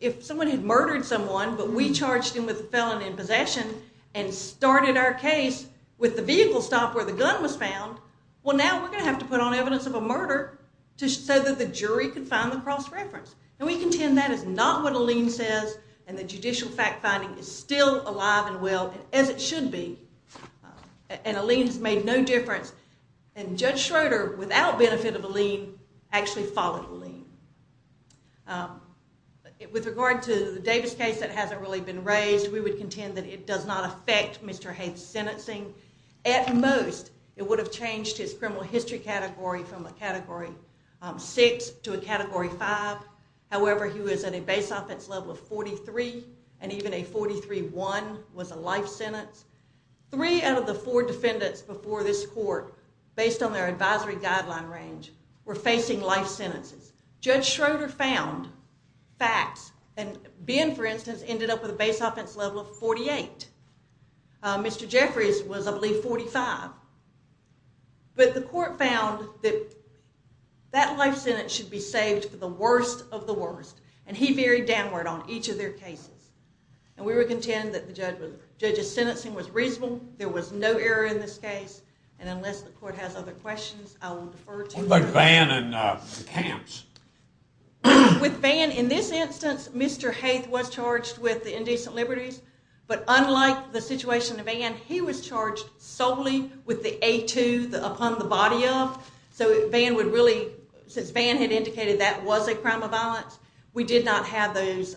If someone had murdered someone, but we charged him with a felon in possession and started our case with the vehicle stop where the gun was found, well, now we're going to have to put on evidence of a murder so that the jury can find the cross-reference. And we contend that is not what Alene says, and the judicial fact-finding is still alive and well, as it should be. And Alene's made no difference. And Judge Schroeder, without benefit of Alene, actually followed Alene. With regard to the Davis case that hasn't really been raised, we would contend that it does not affect Mr. Haith's sentencing at most. It would have changed his criminal history category from a Category 6 to a Category 5. However, he was at a base-offense level of 43, and even a 43-1 was a life sentence. Three out of the four defendants before this court, based on their advisory guideline range, were facing life sentences. Judge Schroeder found facts, and Ben, for instance, ended up with a base-offense level of 48. Mr. Jeffries was, I believe, 45. But the court found that that life sentence should be saved for the worst of the worst, and he varied downward on each of their cases. And we would contend that the judge's sentencing was reasonable, there was no error in this case, and unless the court has other questions, I will defer to you. What about Van and the camps? With Van, in this instance, Mr. Haith was charged with indecent liberties, but unlike the situation with Van, he was charged solely with the A-2 upon the body of. So Van would really, since Van had indicated that was a crime of violence, we did not have those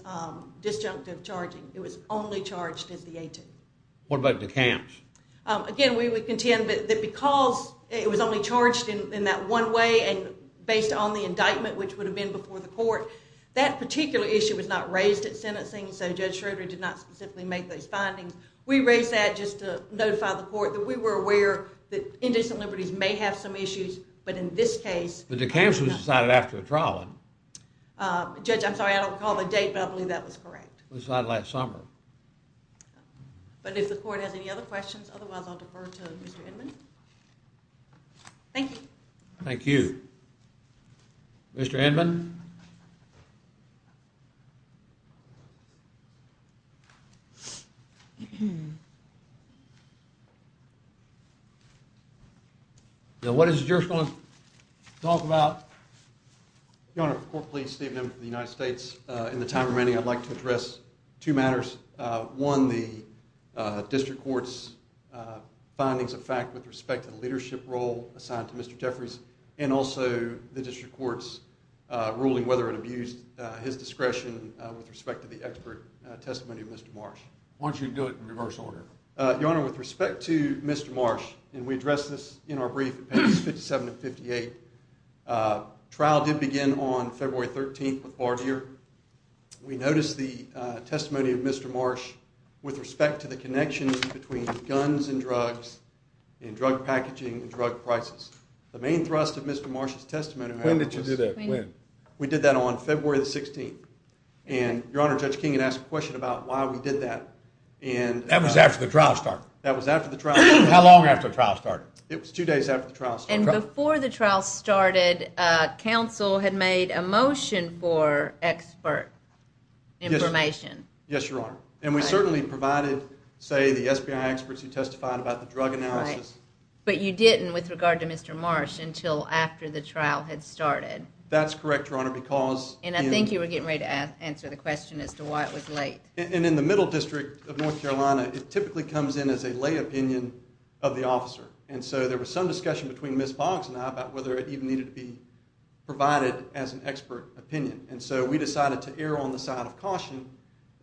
disjunctive charging. It was only charged as the A-2. What about the camps? Again, we would contend that because it was only charged in that one way, and based on the indictment, which would have been before the court, that particular issue was not raised at sentencing, so Judge Schroeder did not specifically make those findings. We raised that just to notify the court that we were aware that indecent liberties may have some issues, but in this case... But the camps was decided after the trial. Judge, I'm sorry, I don't recall the date, but I believe that was correct. It was decided last summer. But if the court has any other questions, otherwise I'll defer to Mr. Inman. Thank you. Thank you. Mr. Inman? Thank you. What is the jurist going to talk about? Your Honor, the court please. Steve Inman from the United States. In the time remaining, I'd like to address two matters. One, the district court's findings of fact with respect to the leadership role assigned to Mr. Jeffries, and also the district court's ruling whether it abused his discretion with respect to the expert testimony of Mr. Marsh. Why don't you do it in reverse order? Your Honor, with respect to Mr. Marsh, and we addressed this in our brief in pages 57 and 58, trial did begin on February 13th with Bardier. We noticed the testimony of Mr. Marsh with respect to the connections between guns and drugs and drug packaging and drug prices. The main thrust of Mr. Marsh's testimony... When did you do that? When? And, Your Honor, Judge King had asked a question about why we did that. That was after the trial started. How long after the trial started? It was two days after the trial started. And before the trial started, counsel had made a motion for expert information. Yes, Your Honor. And we certainly provided, say, the SPI experts who testified about the drug analysis. But you didn't with regard to Mr. Marsh until after the trial had started. That's correct, Your Honor, because... And I think you were getting ready to answer the question as to why it was late. And in the Middle District of North Carolina, it typically comes in as a lay opinion of the officer. And so there was some discussion between Ms. Boggs and I about whether it even needed to be provided as an expert opinion. And so we decided to err on the side of caution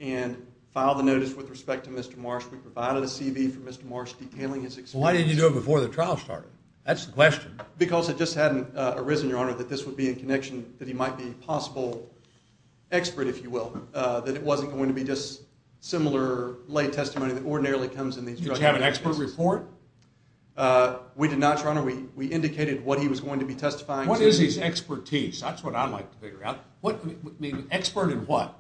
and file the notice with respect to Mr. Marsh. We provided a CV for Mr. Marsh detailing his experience. Why didn't you do it before the trial started? That's the question. Because it just hadn't arisen, Your Honor, that this would be in connection, that he might be a possible expert, if you will, that it wasn't going to be just similar lay testimony that ordinarily comes in these drug analysis cases. Did you have an expert report? We did not, Your Honor. We indicated what he was going to be testifying to. What is his expertise? That's what I'd like to figure out. What, I mean, expert in what?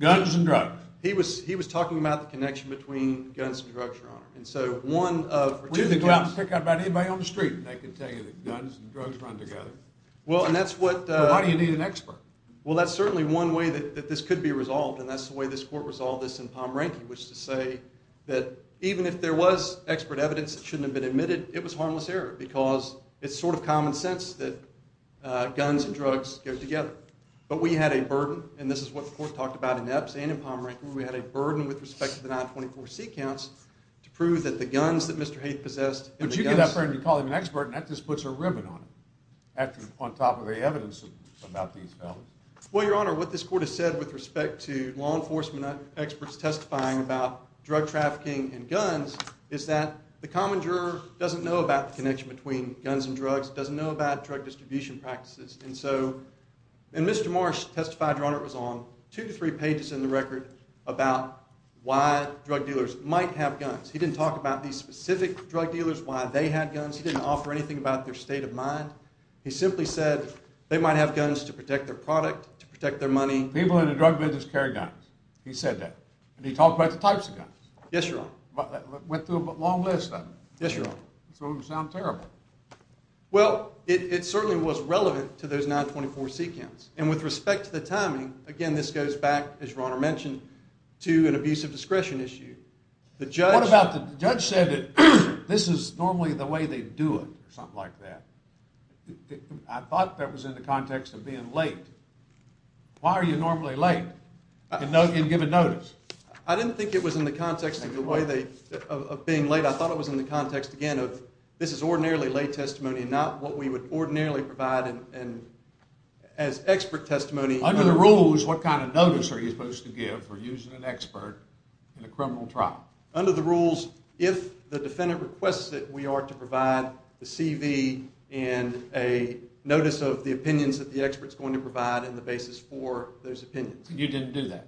Guns and drugs. He was talking about the connection between guns and drugs, Your Honor. And so one of... We didn't go out and pick out about anybody on the street. I can tell you that guns and drugs run together. Well, and that's what... Why do you need an expert? Well, that's certainly one way that this could be resolved, and that's the way this court resolved this in Pomeranke, which is to say that even if there was expert evidence that shouldn't have been admitted, it was harmless error, because it's sort of common sense that guns and drugs go together. But we had a burden, and this is what the court talked about in Epps and in Pomeranke, where we had a burden with respect to the 924C counts to prove that the guns that Mr. Haith possessed... But you get up there and you call him an expert, and that just puts a ribbon on it, on top of the evidence about these felons. Well, Your Honor, what this court has said with respect to law enforcement experts testifying about drug trafficking and guns is that the common juror doesn't know about the connection between guns and drugs, doesn't know about drug distribution practices. And so... And Mr. Marsh testified, Your Honor, it was on two to three pages in the record about why drug dealers might have guns. He didn't talk about these specific drug dealers, why they had guns. He didn't offer anything about their state of mind. He simply said they might have guns to protect their product, to protect their money. People in the drug business carry guns. He said that. And he talked about the types of guns. Yes, Your Honor. Went through a long list of them. Yes, Your Honor. Some of them sound terrible. Well, it certainly was relevant to those 924C counts. And with respect to the timing, again, this goes back, as Your Honor mentioned, to an abuse of discretion issue. What about the judge said that this is normally the way they do it, or something like that. I thought that was in the context of being late. Why are you normally late in giving notice? I didn't think it was in the context of being late. I thought it was in the context, again, of this is ordinarily late testimony, not what we would ordinarily provide as expert testimony. Under the rules, for using an expert in a criminal trial? Under the rules, if the defendant requests it, we are to provide the CV and a notice of the opinions that the expert's going to provide and the basis for those opinions. You didn't do that?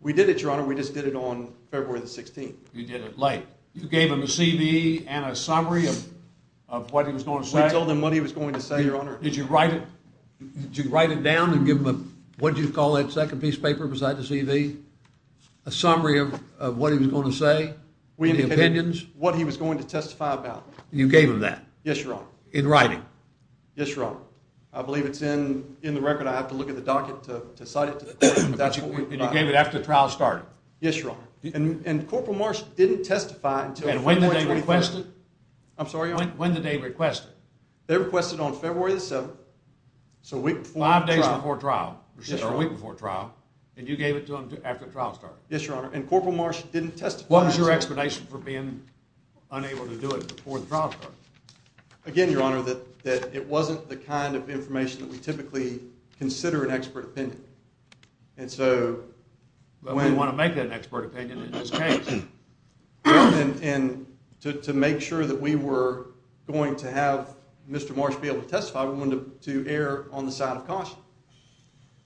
We did it, Your Honor. We just did it on February the 16th. You did it late. You gave him a CV and a summary of what he was going to say? We told him what he was going to say, Your Honor. Did you write it? Did you write it down and give him a, what did you call that second piece of paper? Was that the CV? A summary of what he was going to say? Any opinions? What he was going to testify about. You gave him that? Yes, Your Honor. In writing? Yes, Your Honor. I believe it's in the record. I have to look at the docket to cite it. And you gave it after the trial started? Yes, Your Honor. And Corporal Marsh didn't testify until February the 27th. And when did they request it? I'm sorry, Your Honor? When did they request it? They requested it on February the 7th, so a week before trial. Five days before trial. Yes, Your Honor. Or a week before trial. And you gave it to him after the trial started? Yes, Your Honor. And Corporal Marsh didn't testify. What was your explanation for being unable to do it before the trial started? Again, Your Honor, that it wasn't the kind of information that we typically consider an expert opinion. And so... But we want to make that an expert opinion in this case. And to make sure that we were going to have Mr. Marsh be able to testify,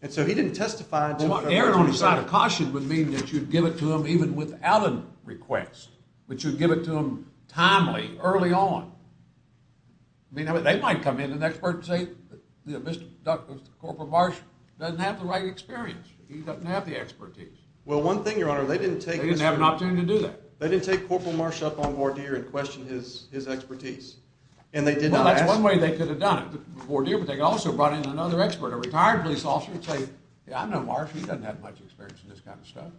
And so he didn't testify until February the 27th. Error on the side of caution would mean that you'd give it to him even without a request, but you'd give it to him timely, early on. They might come in an expert and say, Mr. Corporal Marsh doesn't have the right experience. He doesn't have the expertise. Well, one thing, Your Honor, they didn't take... They didn't have an opportunity to do that. They didn't take Corporal Marsh up on voir dire and question his expertise. And they did not ask... Well, that's one way they could have done it, voir dire, but they also brought in another expert, a retired police officer, to say, I know Marsh, he doesn't have much experience in this kind of stuff.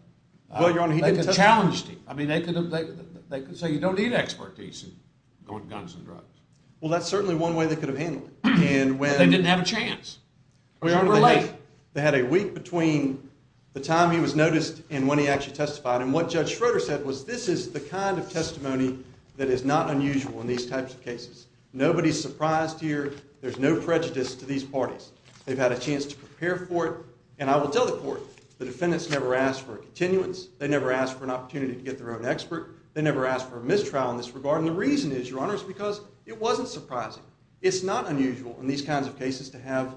Well, Your Honor, he didn't testify. They could have challenged him. I mean, they could have... They could say, you don't need expertise in going to guns and drugs. Well, that's certainly one way they could have handled it. And when... They didn't have a chance. They were late. They had a week between the time he was noticed and when he actually testified. And what Judge Schroeder said was, this is the kind of testimony that is not unusual in these types of cases. Nobody's surprised here. There's no prejudice to these parties. They've had a chance to prepare for it. And I will tell the court, the defendants never asked for a continuance. They never asked for an opportunity to get their own expert. They never asked for a mistrial in this regard. And the reason is, Your Honor, is because it wasn't surprising. It's not unusual in these kinds of cases to have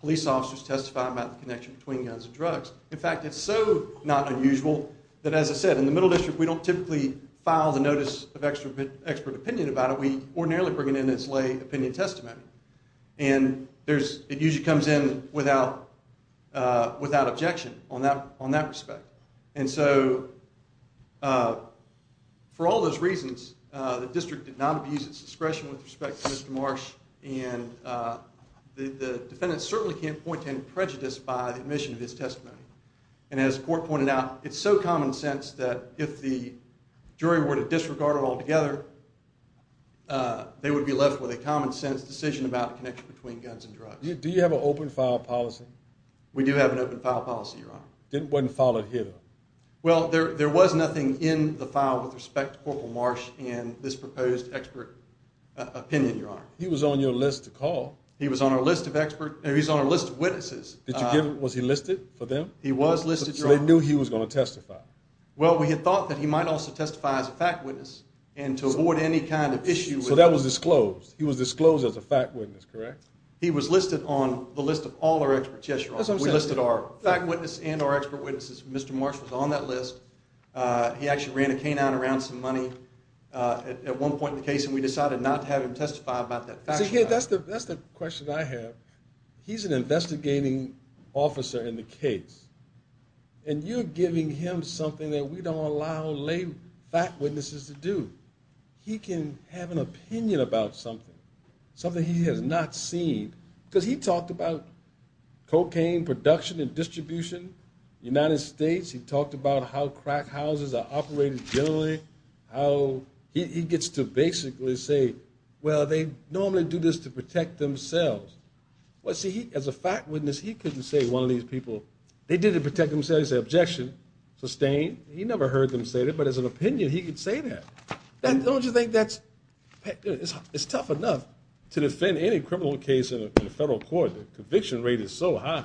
police officers testify about the connection between guns and drugs. In fact, it's so not unusual that, as I said, in the Middle District, we don't typically file the notice of expert opinion about it. We ordinarily bring it in as lay opinion testimony. And it usually comes in without objection on that respect. And so, for all those reasons, the district did not abuse its discretion with respect to Mr. Marsh, and the defendants certainly can't point to any prejudice by the admission of his testimony. And as the court pointed out, it's so common sense that if the jury were to disregard it altogether, they would be left with a common-sense decision about the connection between guns and drugs. Do you have an open-file policy? We do have an open-file policy, Your Honor. It wasn't filed here, though. Well, there was nothing in the file with respect to Corporal Marsh and this proposed expert opinion, Your Honor. He was on your list to call. He was on our list of expert... He was on our list of witnesses. Was he listed for them? He was listed, Your Honor. So they knew he was going to testify. Well, we had thought that he might also testify as a fact witness and to avoid any kind of issue... So that was disclosed. He was disclosed as a fact witness, correct? He was listed on the list of all our experts. Yes, Your Honor. We listed our fact witness and our expert witnesses. Mr. Marsh was on that list. He actually ran a canine around some money at one point in the case, and we decided not to have him testify about that fact. That's the question I have. He's an investigating officer in the case, and you're giving him something that we don't allow lay fact witnesses to do. He can have an opinion about something, something he has not seen, because he talked about cocaine production and distribution. The United States, he talked about how crack houses are operated generally, how he gets to basically say, well, they normally do this to protect themselves. Well, see, as a fact witness, he couldn't say one of these people... They did it to protect themselves. Objection sustained. He never heard them say that, but as an opinion, he could say that. Don't you think that's... It's tough enough to defend any criminal case in a federal court. The conviction rate is so high.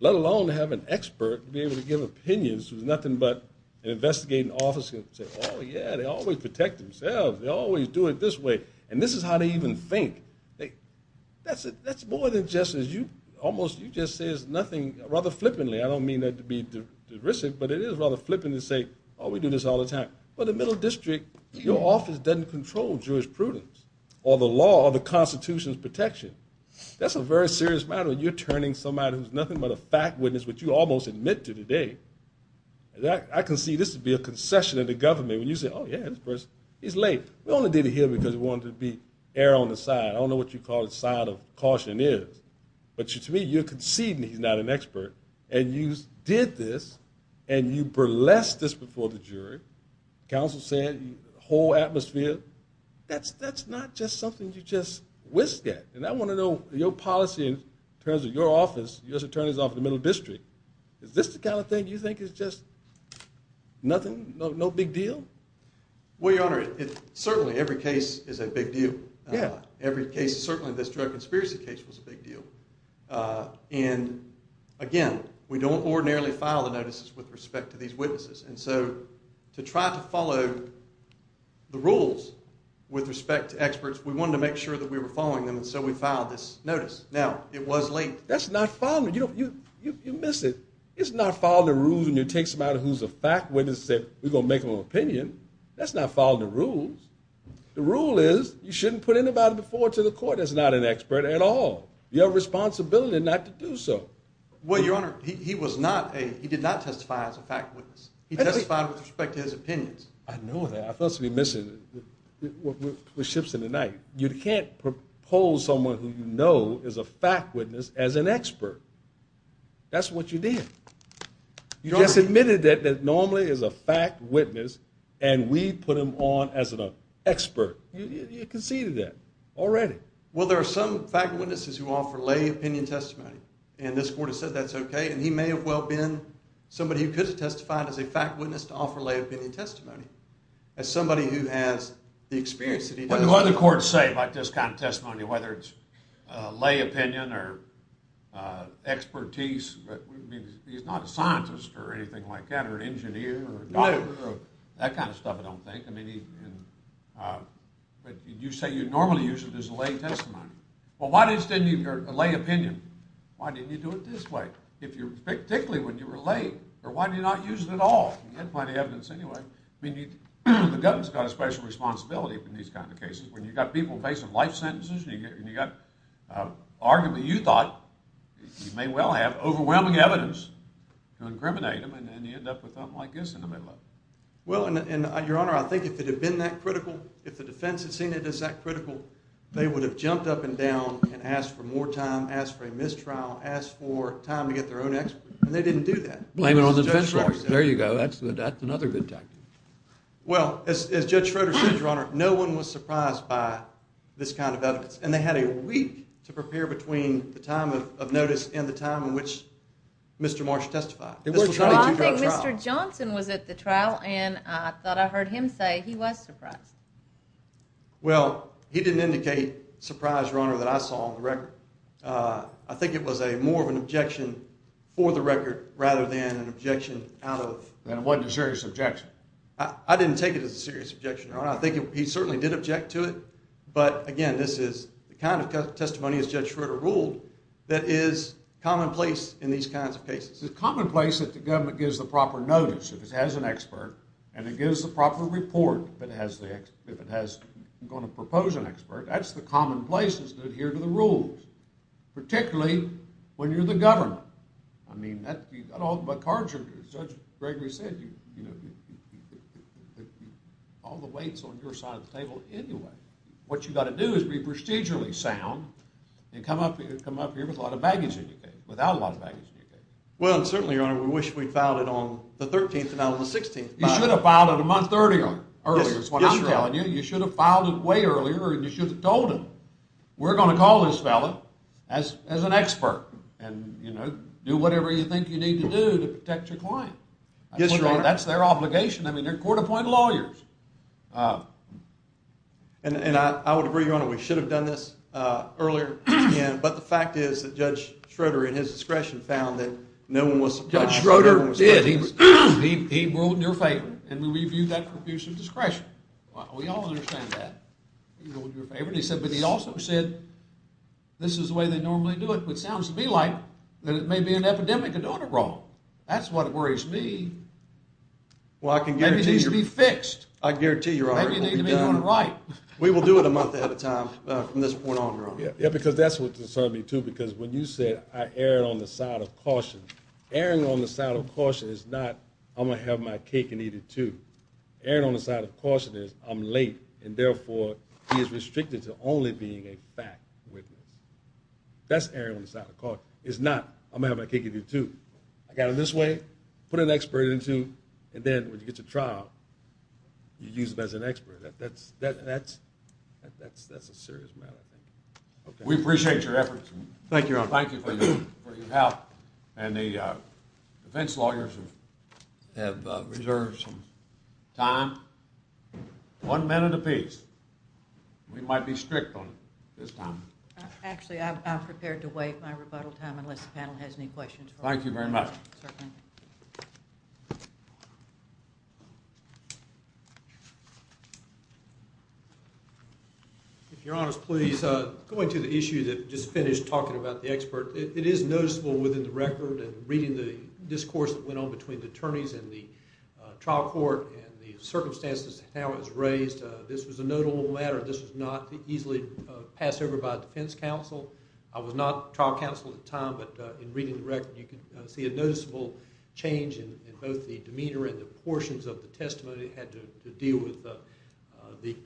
Let alone have an expert be able to give opinions who's nothing but an investigating officer and say, oh, yeah, they always protect themselves, they always do it this way, and this is how they even think. That's more than just as you... Almost you just say nothing rather flippantly. I don't mean that to be derisive, but it is rather flippant to say, oh, we do this all the time. Well, the Middle District, your office doesn't control Jewish prudence or the law or the Constitution's protection. That's a very serious matter when you're turning somebody who's nothing but a fact witness, which you almost admit to today. I can see this would be a concession to the government when you say, oh, yeah, this person, he's late. We only did it here because we wanted to be air on the side. I don't know what you call it, side of caution is, but to me, you're conceding he's not an expert and you did this and you blessed this before the jury. Counsel said whole atmosphere. That's not just something you just whisk at, and I want to know your policy in terms of your office, U.S. Attorney's Office of the Middle District. Is this the kind of thing you think is just nothing, no big deal? Well, Your Honor, certainly every case is a big deal. Every case, certainly this drug conspiracy case was a big deal, and again, we don't ordinarily file the notices with respect to these witnesses, and so to try to follow the rules with respect to experts, we wanted to make sure that we were following them, and so we filed this notice. Now, it was late. That's not following. You miss it. It's not following the rules when you take somebody who's a fact witness and say we're going to make them an opinion. That's not following the rules. The rule is you shouldn't put anybody before to the court that's not an expert at all. You have a responsibility not to do so. Well, Your Honor, he was not a, he did not testify as a fact witness. He testified with respect to his opinions. I know that. I thought something was missing. We're ships in the night. You can't propose someone who you know is a fact witness as an expert. That's what you did. You just admitted that normally as a fact witness and we put him on as an expert. You conceded that already. Well, there are some fact witnesses who offer lay opinion testimony, and this court has said that's okay, and he may have well been somebody who could have testified as a fact witness to offer lay opinion testimony as somebody who has the experience that he does. What do other courts say about this kind of testimony, whether it's lay opinion or expertise? I mean, he's not a scientist or anything like that or an engineer or a doctor or that kind of stuff, I don't think. But you say you normally use it as a lay testimony. Well, why didn't you extend your lay opinion? Why didn't you do it this way, particularly when you were lay? Or why did you not use it at all? You had plenty of evidence anyway. I mean, the government's got a special responsibility in these kind of cases. When you've got people facing life sentences and you've got, arguably, you thought you may well have overwhelming evidence to incriminate them, and you end up with something like this in the middle of it. Well, Your Honor, I think if it had been that critical, if the defense had seen it as that critical, they would have jumped up and down and asked for more time, asked for a mistrial, asked for time to get their own expert, and they didn't do that. Blame it on the defense lawyer. There you go, that's another good tactic. Well, as Judge Schroeder said, Your Honor, no one was surprised by this kind of evidence, and they had a week to prepare between the time of notice and the time in which Mr. Marsh testified. Well, I think Mr. Johnson was at the trial, and I thought I heard him say he was surprised. Well, he didn't indicate surprise, Your Honor, that I saw on the record. I think it was more of an objection for the record rather than an objection out of... That it wasn't a serious objection. I didn't take it as a serious objection, Your Honor. I think he certainly did object to it, but, again, this is the kind of testimony, as Judge Schroeder ruled, that is commonplace in these kinds of cases. It's commonplace that the government gives the proper notice, if it has an expert, and it gives the proper report, if it's going to propose an expert. That's the commonplace, is to adhere to the rules, particularly when you're the government. I mean, you've got all the cards here. Judge Gregory said, you know, all the weight's on your side of the table anyway. What you've got to do is be procedurally sound and come up here with a lot of baggage in your case, Well, and certainly, Your Honor, we wish we'd filed it on the 13th and not on the 16th. You should have filed it a month earlier. That's what I'm telling you. You should have filed it way earlier, and you should have told him, we're going to call this fella as an expert and do whatever you think you need to do to protect your client. Yes, Your Honor. That's their obligation. I mean, they're court-appointed lawyers. And I would agree, Your Honor, we should have done this earlier, but the fact is that Judge Schroeder, in his discretion, found that no one was... Judge Schroeder did. He ruled in your favor, and we viewed that for abuse of discretion. We all understand that. He ruled in your favor, and he said, but he also said, this is the way they normally do it, which sounds to me like that it may be an epidemic of doing it wrong. That's what worries me. Well, I can guarantee you... Maybe it needs to be fixed. I can guarantee you, Your Honor, it will be done. Maybe you need to be doing it right. We will do it a month ahead of time from this point on, Your Honor. Yeah, because that's what concerns me, too, because when you said, I err on the side of caution, erring on the side of caution is not, I'm going to have my cake and eat it, too. Erring on the side of caution is, I'm late, and therefore, he is restricted to only being a fact witness. That's erring on the side of caution. It's not, I'm going to have my cake and eat it, too. I got it this way, put an expert in it, too, you use him as an expert. That's a serious matter, I think. We appreciate your efforts. Thank you, Your Honor. Thank you for your help. And the defense lawyers have reserved some time, one minute apiece. We might be strict on it this time. Actually, I'm prepared to wait my rebuttal time unless the panel has any questions. Thank you very much. Certainly. Thank you for your time. If Your Honor's please, going to the issue that just finished talking about the expert, it is noticeable within the record and reading the discourse that went on between the attorneys and the trial court and the circumstances how it was raised, this was a notable matter. This was not easily passed over by a defense counsel. I was not trial counsel at the time, but in reading the record, you can see a noticeable change in both the demeanor and the portions of the testimony that had to deal with the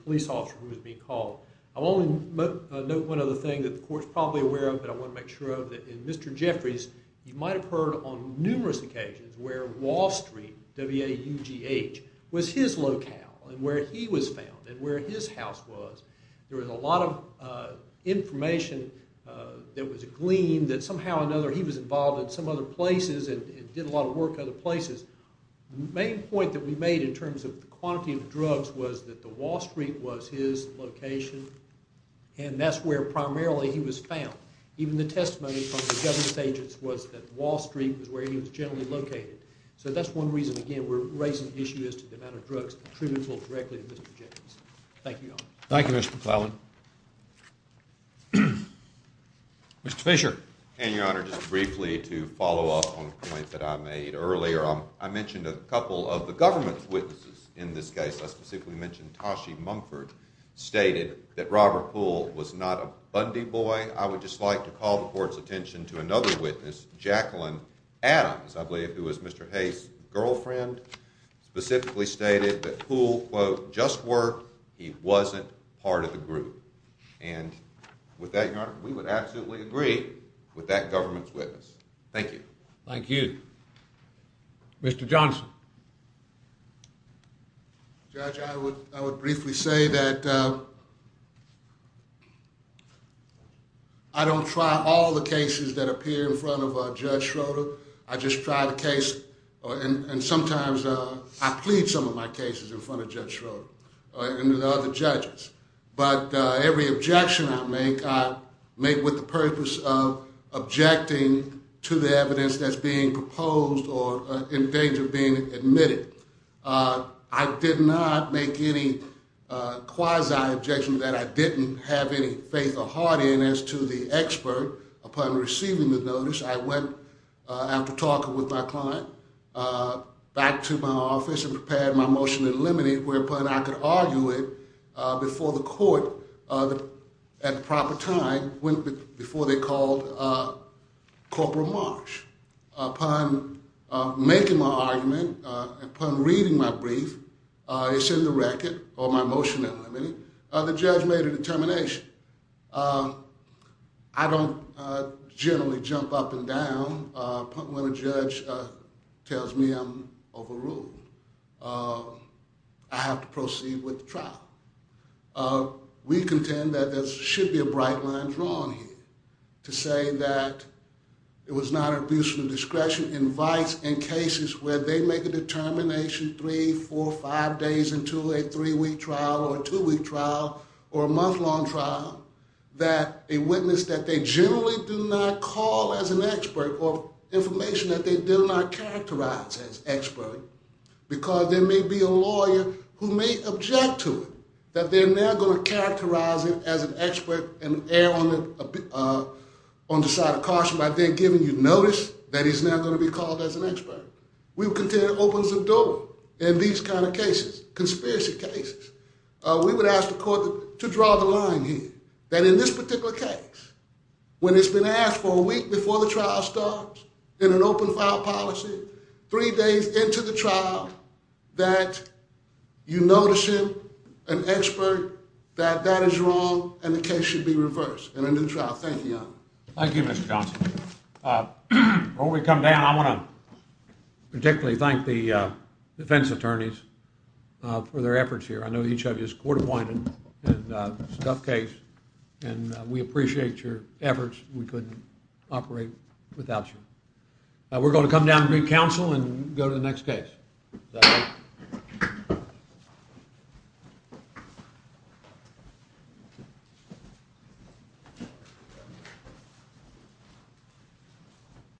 police officer who was being called. I'll only note one other thing that the court's probably aware of but I want to make sure of, that in Mr. Jeffrey's, you might have heard on numerous occasions where Wall Street, W-A-U-G-H, was his locale and where he was found and where his house was. There was a lot of information that was gleaned that somehow or another he was involved in some other places and did a lot of work in other places. The main point that we made in terms of the quantity of drugs was that the Wall Street was his location and that's where primarily he was found. Even the testimony from the government agents was that Wall Street was where he was generally located. So that's one reason, again, we're raising the issue as to the amount of drugs that are attributable directly to Mr. Jacobs. Thank you, Your Honor. Thank you, Mr. McFarland. Mr. Fisher. And, Your Honor, just briefly to follow up on a point that I made earlier, I mentioned a couple of the government's witnesses in this case. I specifically mentioned Toshi Mumford stated that Robert Poole was not a Bundy boy. I would just like to call the Court's attention to another witness, Jacqueline Adams, I believe, who was Mr. Hayes' girlfriend, specifically stated that Poole, quote, just worked, he wasn't part of the group. And with that, Your Honor, we would absolutely agree with that government's witness. Thank you. Thank you. Mr. Johnson. Judge, I would briefly say that I don't try all the cases that appear in front of Judge Schroeder. I just try the case, and sometimes I plead some of my cases in front of Judge Schroeder and other judges. But every objection I make, I make with the purpose of objecting to the evidence that's being proposed or in danger of being admitted. I did not make any quasi-objections that I didn't have any faith or heart in as to the expert. Upon receiving the notice, I went, after talking with my client, back to my office and prepared my motion to eliminate whereupon I could argue it before the court, at the proper time, before they called Corporal Marsh. Upon making my argument, upon reading my brief, it's in the record, or my motion eliminated, the judge made a determination. I don't generally jump up and down when a judge tells me I'm overruled. I have to proceed with the trial. We contend that there should be a bright line drawn here to say that it was not an abuse of discretion, and vice, in cases where they make a determination three, four, five days into a three-week trial or a two-week trial or a month-long trial, that a witness that they generally do not call as an expert, or information that they do not characterize as expert, because there may be a lawyer who may object to it, that they're now going to characterize it as an expert and err on the side of caution by then giving you notice that he's now going to be called as an expert. We would contend it opens the door in these kind of cases, conspiracy cases. We would ask the court to draw the line here, that in this particular case, when it's been asked for a week before the trial starts in an open-file policy, three days into the trial, that you notice him, an expert, that that is wrong and the case should be reversed and into the trial. Thank you, Your Honor. Thank you, Mr. Johnson. Before we come down, I want to particularly thank the defense attorneys for their efforts here. I know each of you is court-appointed and it's a tough case, and we appreciate your efforts. We couldn't operate without you. We're going to come down and meet counsel and go to the next case.